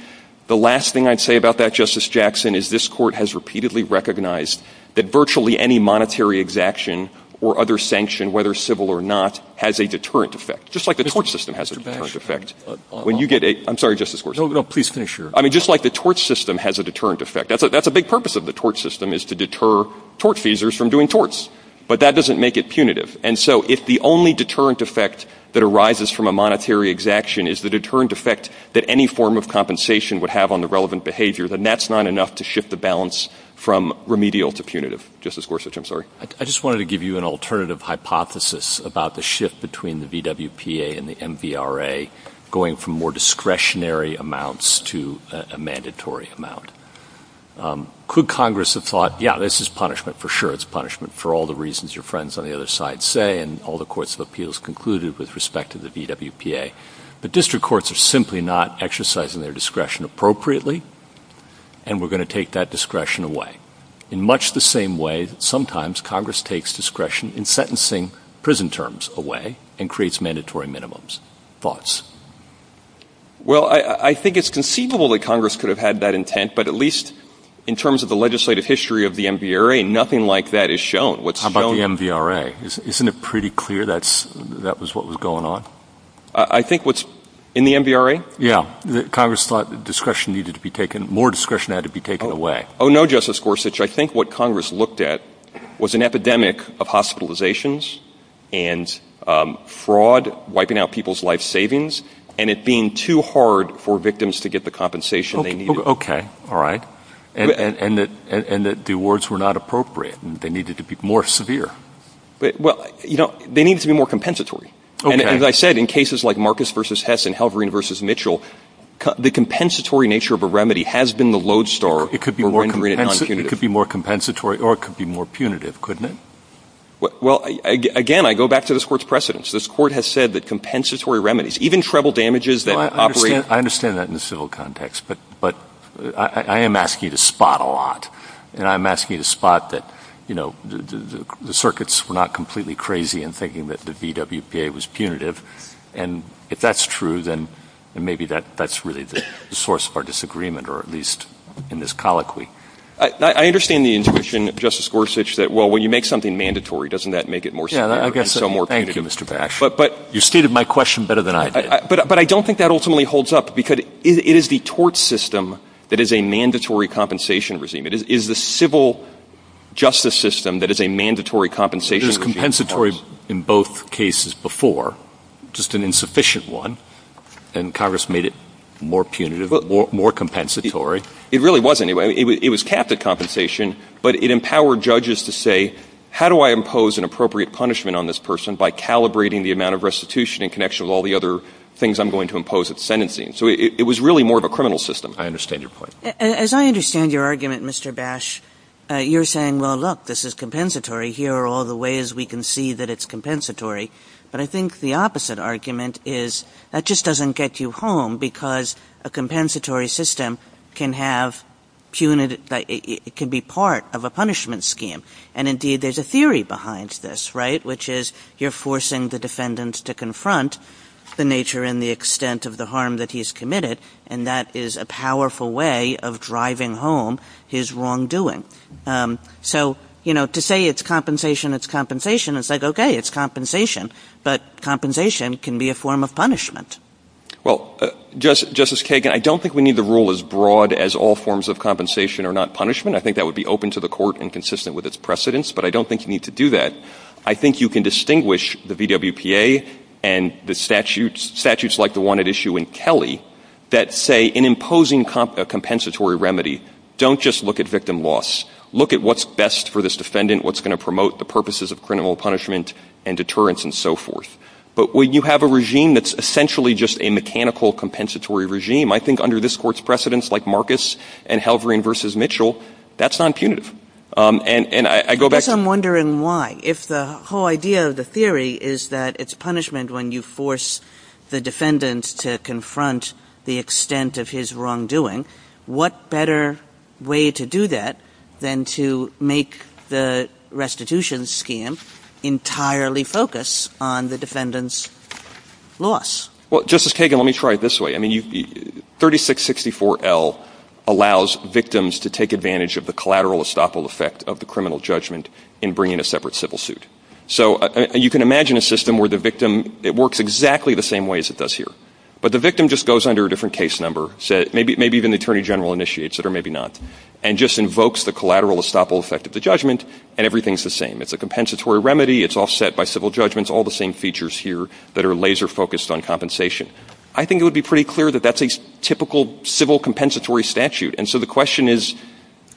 The last thing I'd say about that, Justice Jackson, is this Court has repeatedly recognized that virtually any monetary exaction or other sanction, whether civil or not, has a deterrent effect, just like the tort system has a deterrent effect. When you get a — I'm sorry, Justice Gorsuch. No, no, please finish your — I mean, just like the tort system has a deterrent effect. That's a big purpose of the tort system, is to deter tort-feasers from doing torts. But that doesn't make it punitive. And so if the only deterrent effect that arises from a monetary exaction is the deterrent effect that any form of compensation would have on the relevant behavior, then that's not enough to shift the balance from remedial to punitive. Justice Gorsuch, I'm sorry. I just wanted to give you an alternative hypothesis about the shift between the VWPA and the MVRA going from more discretionary amounts to a mandatory amount. Could Congress have thought, yeah, this is punishment for sure. It's punishment for all the reasons your friends on the other side say and all the courts of appeals concluded with respect to the VWPA. But district courts are simply not exercising their discretion appropriately, and we're going to take that discretion away, in much the same way that sometimes Congress takes discretion in sentencing prison terms away and creates mandatory minimums. Thoughts? Well, I think it's conceivable that Congress could have had that intent, but at least in terms of the legislative history of the MVRA, nothing like that is shown. What's shown — How about the MVRA? Isn't it pretty clear that's — that was what was going on? I think what's — in the MVRA? Yeah. Congress thought that discretion needed to be taken — more discretion had to be taken away. Oh, no, Justice Gorsuch. I think what Congress looked at was an epidemic of hospitalizations and fraud, wiping out people's life savings, and it being too hard for victims to get the compensation they needed. All right. And that — and that the awards were not appropriate and they needed to be more severe. Well, you know, they needed to be more compensatory. Okay. And as I said, in cases like Marcus v. Hess and Halvorin v. Mitchell, the compensatory nature of a remedy has been the lodestar for rendering it non-punitive. But it could be more compensatory or it could be more punitive, couldn't it? Well, again, I go back to this Court's precedents. This Court has said that compensatory remedies, even treble damages that operate — I understand that in the civil context, but I am asking you to spot a lot, and I'm asking you to spot that, you know, the circuits were not completely crazy in thinking that the VWPA was punitive. And if that's true, then maybe that's really the source of our disagreement, or at least in this colloquy. I understand the intuition, Justice Gorsuch, that, well, when you make something mandatory, doesn't that make it more severe and so more punitive? Thank you, Mr. Bash. You stated my question better than I did. But I don't think that ultimately holds up because it is the tort system that is a mandatory compensation regime. It is the civil justice system that is a mandatory compensation regime. It was compensatory in both cases before, just an insufficient one, and Congress made it more punitive, more compensatory. It really wasn't. It was capped at compensation, but it empowered judges to say, how do I impose an appropriate punishment on this person by calibrating the amount of restitution in connection with all the other things I'm going to impose at sentencing? So it was really more of a criminal system. I understand your point. As I understand your argument, Mr. Bash, you're saying, well, look, this is compensatory. Here are all the ways we can see that it's compensatory. But I think the opposite argument is that just doesn't get you home because a compensatory system can have punitive – it can be part of a punishment scheme. And, indeed, there's a theory behind this, right, which is you're forcing the defendant to confront the nature and the extent of the harm that he's committed, and that is a powerful way of driving home his wrongdoing. So, you know, to say it's compensation, it's compensation, it's like, okay, it's compensation, but compensation can be a form of punishment. Well, Justice Kagan, I don't think we need the rule as broad as all forms of compensation are not punishment. I think that would be open to the court and consistent with its precedents, but I don't think you need to do that. I think you can distinguish the VWPA and the statutes like the one at issue in Kelly that say in imposing a compensatory remedy, don't just look at victim loss. Look at what's best for this defendant, what's going to promote the purposes of criminal punishment and deterrence and so forth. But when you have a regime that's essentially just a mechanical compensatory regime, I think under this Court's precedents like Marcus and Halvorin v. Mitchell, that's nonpunitive. And I go back to the ---- I guess I'm wondering why. If the whole idea of the theory is that it's punishment when you force the defendant to confront the extent of his wrongdoing, what better way to do that than to make the restitution scheme entirely focus on the defendant's loss? Well, Justice Kagan, let me try it this way. I mean, 3664L allows victims to take advantage of the collateral estoppel effect of the criminal judgment in bringing a separate civil suit. So you can imagine a system where the victim ---- it works exactly the same way as it does here. But the victim just goes under a different case number, maybe even the attorney general initiates it or maybe not, and just invokes the collateral estoppel effect of the judgment, and everything's the same. It's a compensatory remedy. It's offset by civil judgments, all the same features here that are laser-focused on compensation. I think it would be pretty clear that that's a typical civil compensatory statute. And so the question is,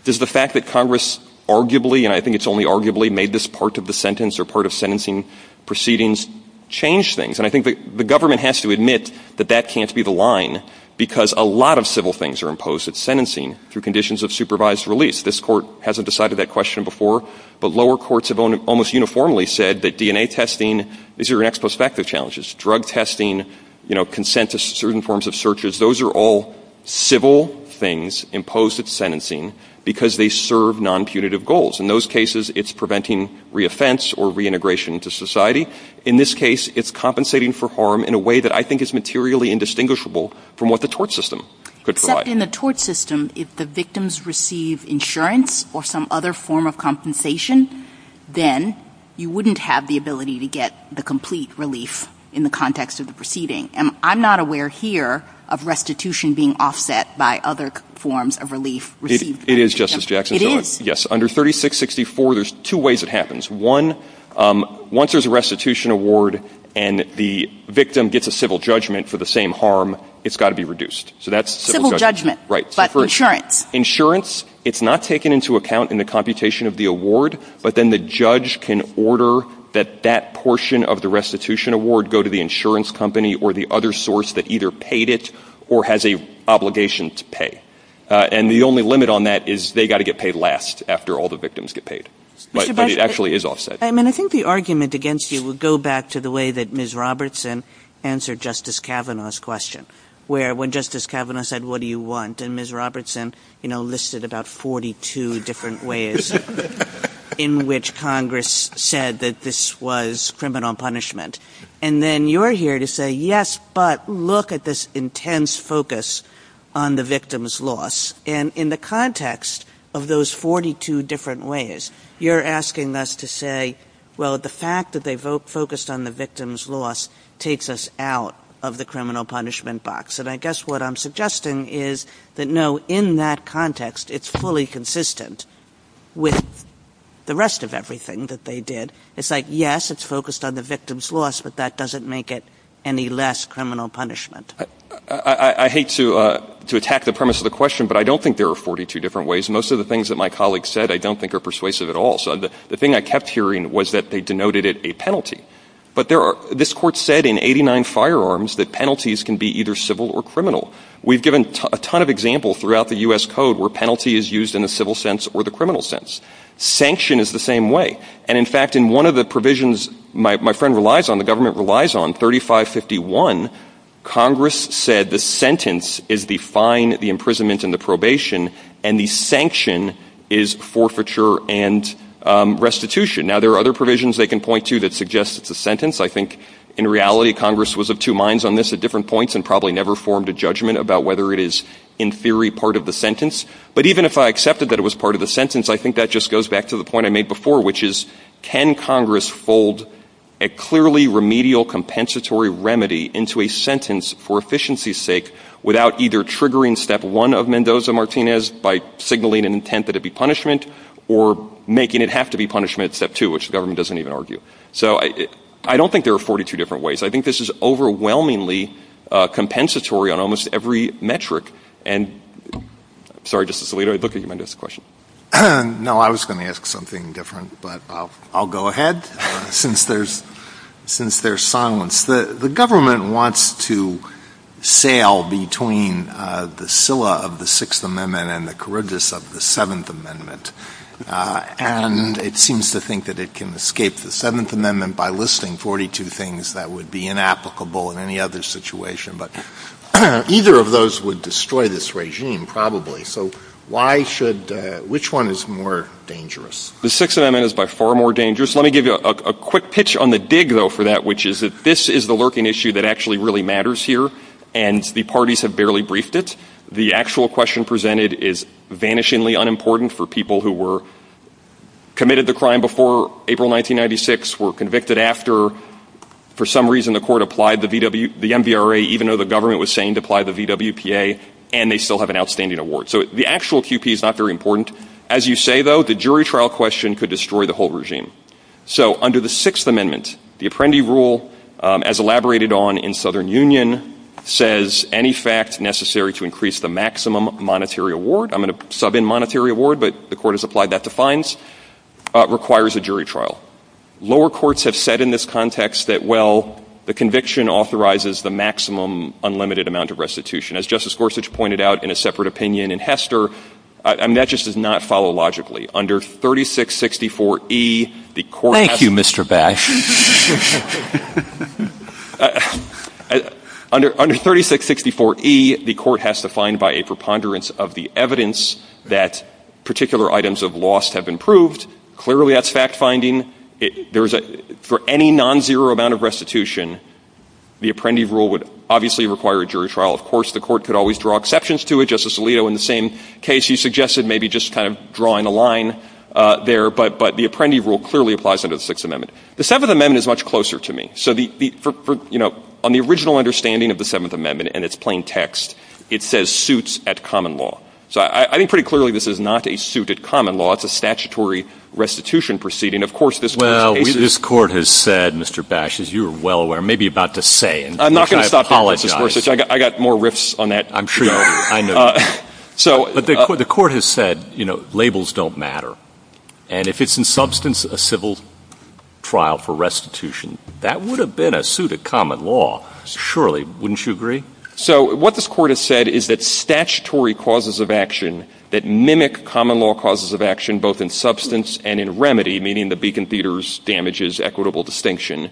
does the fact that Congress arguably, and I think it's only arguably, made this part of the sentence or part of sentencing proceedings change things? And I think the government has to admit that that can't be the line because a lot of civil things are imposed at sentencing through conditions of supervised release. This Court hasn't decided that question before, but lower courts have almost uniformly said that DNA testing is your next prospective challenge. It's drug testing, you know, consent to certain forms of searches. Those are all civil things imposed at sentencing because they serve nonpunitive goals. In those cases, it's preventing reoffense or reintegration to society. In this case, it's compensating for harm in a way that I think is materially indistinguishable from what the tort system could provide. But in the tort system, if the victims receive insurance or some other form of compensation, then you wouldn't have the ability to get the complete relief in the context of the proceeding. I'm not aware here of restitution being offset by other forms of relief received by the victim. It is, Justice Jackson. It is. Yes. Under 3664, there's two ways it happens. One, once there's a restitution award and the victim gets a civil judgment for the same harm, it's got to be reduced. So that's civil judgment. Right. But insurance. Insurance, it's not taken into account in the computation of the award. But then the judge can order that that portion of the restitution award go to the insurance company or the other source that either paid it or has an obligation to pay. And the only limit on that is they got to get paid last after all the victims get paid. But it actually is offset. I mean, I think the argument against you would go back to the way that Ms. Kavanaugh's question, where when Justice Kavanaugh said, what do you want? And Ms. Robertson, you know, listed about 42 different ways in which Congress said that this was criminal punishment. And then you're here to say, yes, but look at this intense focus on the victim's loss. And in the context of those 42 different ways, you're asking us to say, well, the fact that they focused on the victim's loss takes us out of the criminal punishment box. And I guess what I'm suggesting is that, no, in that context, it's fully consistent with the rest of everything that they did. It's like, yes, it's focused on the victim's loss, but that doesn't make it any less criminal punishment. I hate to attack the premise of the question, but I don't think there are 42 different ways. Most of the things that my colleagues said I don't think are persuasive at all. So the thing I kept hearing was that they denoted it a penalty. But this Court said in 89 firearms that penalties can be either civil or criminal. We've given a ton of examples throughout the U.S. Code where penalty is used in the civil sense or the criminal sense. Sanction is the same way. And, in fact, in one of the provisions my friend relies on, the government relies on, 3551, Congress said the sentence is the fine, the imprisonment, and the probation, and the sanction is forfeiture and restitution. Now, there are other provisions they can point to that suggest it's a sentence. I think, in reality, Congress was of two minds on this at different points and probably never formed a judgment about whether it is, in theory, part of the But even if I accepted that it was part of the sentence, I think that just goes back to the point I made before, which is, can Congress fold a clearly remedial compensatory remedy into a sentence for efficiency's sake without either triggering step one of Mendoza-Martinez by signaling an intent that it be punishment or making it have to be punishment at step two, which the government doesn't even argue. So I don't think there are 42 different ways. I think this is overwhelmingly compensatory on almost every metric. And I'm sorry, Justice Alito, I'd look at your Mendoza question. No, I was going to ask something different, but I'll go ahead since there's silence. The government wants to sail between the scylla of the Sixth Amendment and the corridors of the Seventh Amendment. And it seems to think that it can escape the Seventh Amendment by listing 42 things that would be inapplicable in any other situation. But either of those would destroy this regime, probably. So why should — which one is more dangerous? The Sixth Amendment is by far more dangerous. Let me give you a quick pitch on the dig, though, for that, which is that this is the lurking issue that actually really matters here, and the parties have barely briefed it. The actual question presented is vanishingly unimportant for people who were — committed the crime before April 1996, were convicted after. For some reason, the court applied the MVRA even though the government was saying to apply the VWPA, and they still have an outstanding award. So the actual QP is not very important. As you say, though, the jury trial question could destroy the whole regime. So under the Sixth Amendment, the Apprendi Rule, as elaborated on in Southern Union, says any fact necessary to increase the maximum monetary award — I'm going to sub in monetary award, but the court has applied that to fines — requires a jury trial. Lower courts have said in this context that, well, the conviction authorizes the maximum unlimited amount of restitution. As Justice Gorsuch pointed out in a separate opinion in Hester, I mean, that just does not follow logically. Under 3664E, the court has — Thank you, Mr. Bash. Under 3664E, the court has to find by a preponderance of the evidence that particular items of loss have been proved. Clearly, that's fact-finding. There's a — for any nonzero amount of restitution, the Apprendi Rule would obviously require a jury trial. Of course, the court could always draw exceptions to it. Justice Alito, in the same case, he suggested maybe just kind of drawing a line there, but the Apprendi Rule clearly applies under the Sixth Amendment. The Seventh Amendment is much closer to me. So the — for — you know, on the original understanding of the Seventh Amendment and its plain text, it says suits at common law. So I think pretty clearly this is not a suit at common law. It's a statutory restitution proceeding. Of course, this Court's case is — Well, this Court has said, Mr. Bash, as you are well aware, maybe about to say — I'm not going to stop there, Justice Gorsuch. I got more riffs on that to go. I'm sure you do. I know. So — But the Court has said, you know, labels don't matter. And if it's in substance a civil trial for restitution, that would have been a suit at common law. Surely. Wouldn't you agree? So what this Court has said is that statutory causes of action that mimic common law causes of action, both in substance and in remedy, meaning the beacon, theaters, damages, equitable distinction,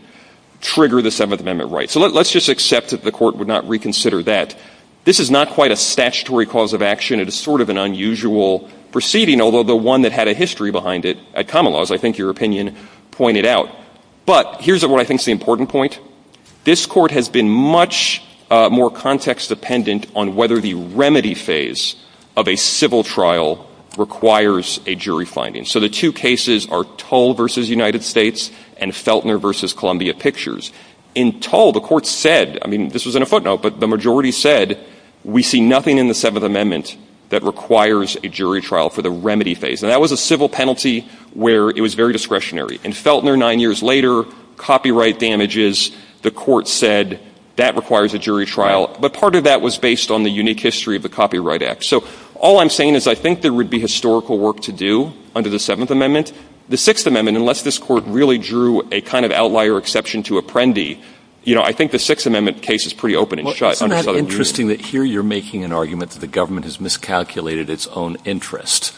trigger the Seventh Amendment right. So let's just accept that the Court would not reconsider that. This is not quite a statutory cause of action. It is sort of an unusual proceeding, although the one that had a history behind it at common law, as I think your opinion pointed out. But here's what I think is the important point. This Court has been much more context-dependent on whether the remedy phase of a civil trial requires a jury finding. So the two cases are Tull v. United States and Feltner v. Columbia Pictures. In Tull, the Court said, I mean, this was in a footnote, but the majority said, we see nothing in the Seventh Amendment that requires a jury trial for the remedy phase. And that was a civil penalty where it was very discretionary. In Feltner, nine years later, copyright damages, the Court said, that requires a jury trial. But part of that was based on the unique history of the Copyright Act. So all I'm saying is I think there would be historical work to do under the Seventh Amendment. The Sixth Amendment, unless this Court really drew a kind of outlier exception to Apprendi, you know, I think the Sixth Amendment case is pretty open and shut under Southern Union. Well, isn't that interesting that here you're making an argument that the government has miscalculated its own interest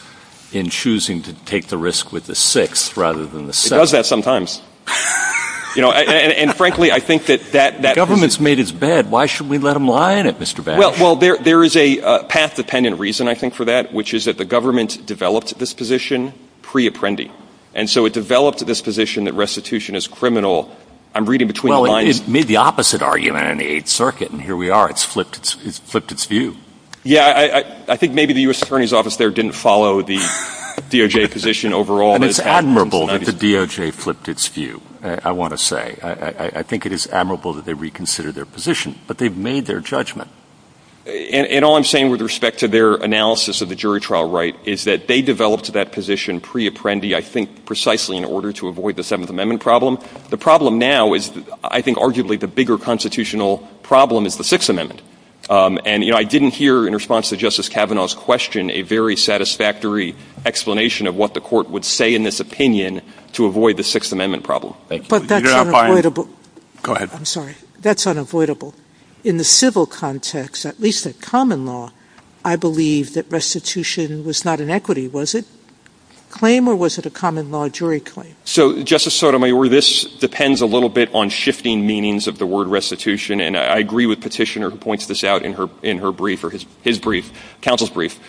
in choosing to take the risk with the Sixth rather than the Seventh? It does that sometimes. You know, and frankly, I think that that reason — The government's made its bed. Why should we let them lie in it, Mr. Bash? Well, there is a path-dependent reason, I think, for that, which is that the government developed this position pre-Apprendi. And so it developed this position that restitution is criminal. I'm reading between the lines. Well, it made the opposite argument in the Eighth Circuit, and here we are. It's flipped its view. Yeah. I think maybe the U.S. Attorney's Office there didn't follow the DOJ position overall. And it's admirable that the DOJ flipped its view, I want to say. I think it is admirable that they reconsidered their position. But they've made their judgment. And all I'm saying with respect to their analysis of the jury trial right is that they developed that position pre-Apprendi, I think, precisely in order to avoid the Seventh Amendment problem. The problem now is I think arguably the bigger constitutional problem is the Sixth And, you know, I didn't hear in response to Justice Kavanaugh's question a very satisfactory explanation of what the Court would say in this opinion to avoid the Sixth Amendment problem. Thank you. But that's unavoidable. Go ahead. I'm sorry. That's unavoidable. In the civil context, at least at common law, I believe that restitution was not an equity, was it? Claim or was it a common law jury claim? So, Justice Sotomayor, this depends a little bit on shifting meanings of the word restitution. And I agree with Petitioner who points this out in her brief or his brief, counsel's brief.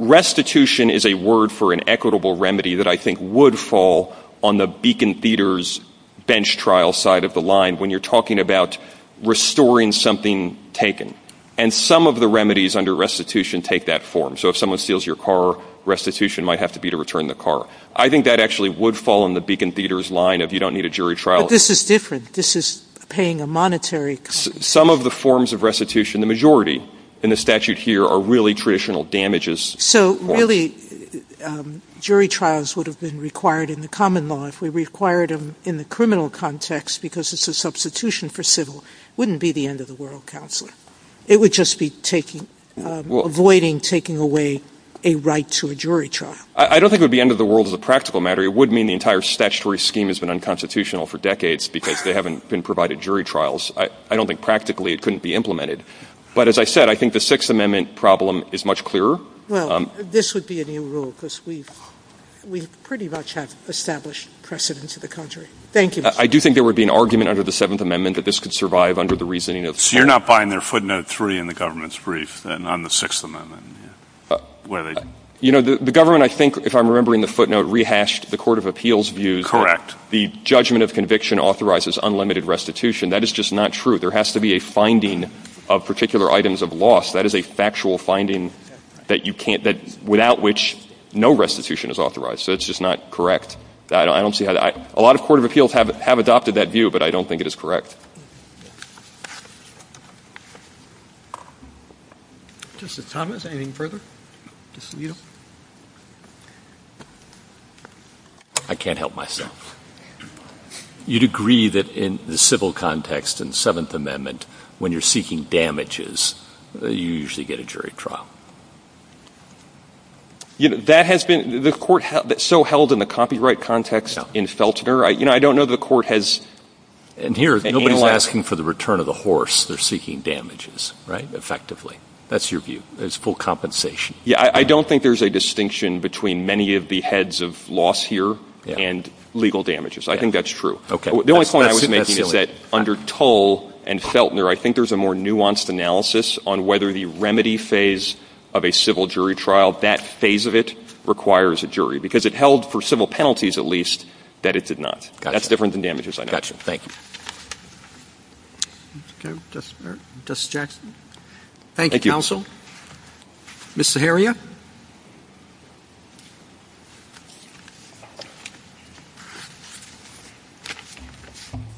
Restitution is a word for an equitable remedy that I think would fall on the Beacon Theater's bench trial side of the line. When you're talking about restoring something taken. And some of the remedies under restitution take that form. So if someone steals your car, restitution might have to be to return the car. I think that actually would fall on the Beacon Theater's line of you don't need a jury trial. But this is different. This is paying a monetary compensation. Some of the forms of restitution, the majority in the statute here, are really traditional damages. So really jury trials would have been required in the common law if we required them in the criminal context because it's a substitution for civil. It wouldn't be the end of the world, Counselor. It would just be taking, avoiding taking away a right to a jury trial. I don't think it would be end of the world as a practical matter. It would mean the entire statutory scheme has been unconstitutional for decades because they haven't been provided jury trials. I don't think practically it couldn't be implemented. But as I said, I think the Sixth Amendment problem is much clearer. Well, this would be a new rule because we've pretty much have established precedent to the contrary. Thank you. I do think there would be an argument under the Seventh Amendment that this could survive under the reasoning of the Court. So you're not buying their footnote three in the government's brief on the Sixth You know, the government, I think, if I'm remembering the footnote, rehashed the Court of Appeals' views. The judgment of conviction authorizes unlimited restitution. That is just not true. There has to be a finding of particular items of loss. That is a factual finding that you can't — without which no restitution is authorized. So it's just not correct. I don't see how that — a lot of Court of Appeals have adopted that view, but I don't think it is correct. Justice Thomas, anything further? I can't help myself. You'd agree that in the civil context in the Seventh Amendment, when you're seeking damages, you usually get a jury trial? You know, that has been — the Court so held in the copyright context in Feltner, you know, I don't know that the Court has analyzed — And here, nobody's asking for the return of the horse. They're seeking damages, right, effectively. That's your view. There's full compensation. Yeah. I don't think there's a distinction between many of the heads of loss here and legal damages. I think that's true. Okay. That's silly. The only point I was making is that under Tull and Feltner, I think there's a more rigorous analysis on whether the remedy phase of a civil jury trial, that phase of it requires a jury, because it held for civil penalties, at least, that it did not. Gotcha. That's different than damages, I know. Gotcha. Thank you. Okay. Justice — Justice Jackson? Thank you, Counsel. Thank you. Ms. Zaharia?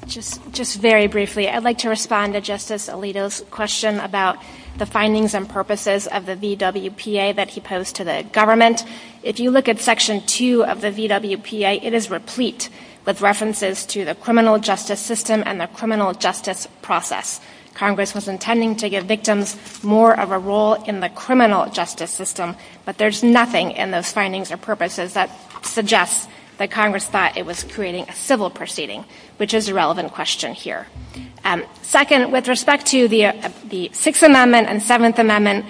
Just — just very briefly, I'd like to respond to Justice Alito's question about the findings and purposes of the VWPA that he posed to the government. If you look at Section 2 of the VWPA, it is replete with references to the criminal justice system and the criminal justice process. Congress was intending to give victims more of a role in the criminal justice system, but there's nothing in those findings or purposes that suggests that Congress thought it was creating a civil proceeding, which is a relevant question here. Second, with respect to the Sixth Amendment and Seventh Amendment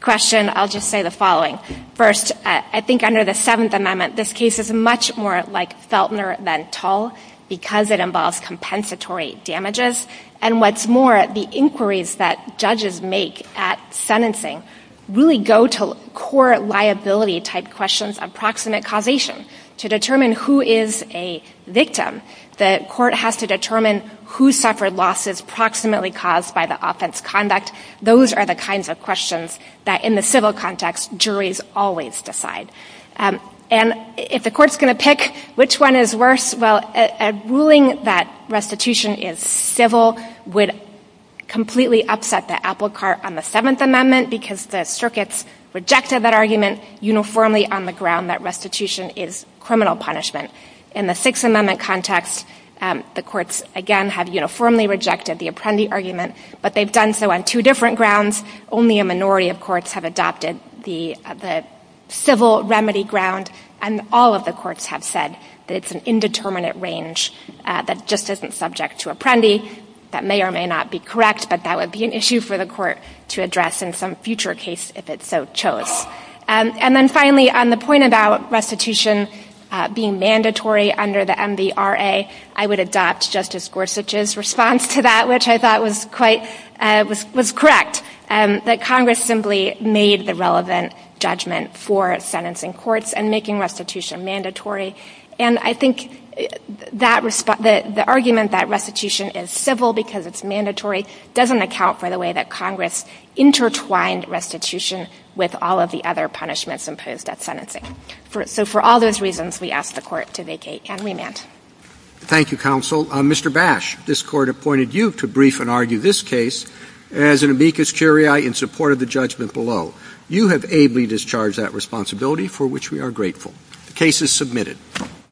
question, I'll just say the following. First, I think under the Seventh Amendment, this case is much more like Feltner than Tull because it involves compensatory damages, and what's more, the inquiries that judges make at sentencing really go to core liability-type questions of proximate causation. To determine who is a victim, the court has to determine who suffered losses proximately caused by the offense conduct. Those are the kinds of questions that, in the civil context, juries always decide. And if the court's going to pick which one is worse, well, a ruling that restitution is civil would completely upset the apple cart on the Seventh Amendment because the circuits rejected that argument uniformly on the ground that restitution is criminal punishment. In the Sixth Amendment context, the courts, again, have uniformly rejected the apprendee argument, but they've done so on two different grounds. Only a minority of courts have adopted the civil remedy ground, and all of the courts have said that it's an indeterminate range that just isn't subject to apprendee. That may or may not be correct, but that would be an issue for the court to address in some future case if it so chose. And then, finally, on the point about restitution being mandatory under the MVRA, I would adopt Justice Gorsuch's response to that, which I thought was quite — was correct, that Congress simply made the relevant judgment for sentencing courts and making restitution mandatory, and I think that the argument that restitution is civil because it's mandatory doesn't account for the way that Congress intertwined restitution with all of the other punishments imposed at sentencing. So for all those reasons, we ask the Court to vacate and remand. Thank you, counsel. Mr. Bash, this Court appointed you to brief and argue this case as an amicus curiae in support of the judgment below. You have ably discharged that responsibility, for which we are grateful. The case is submitted.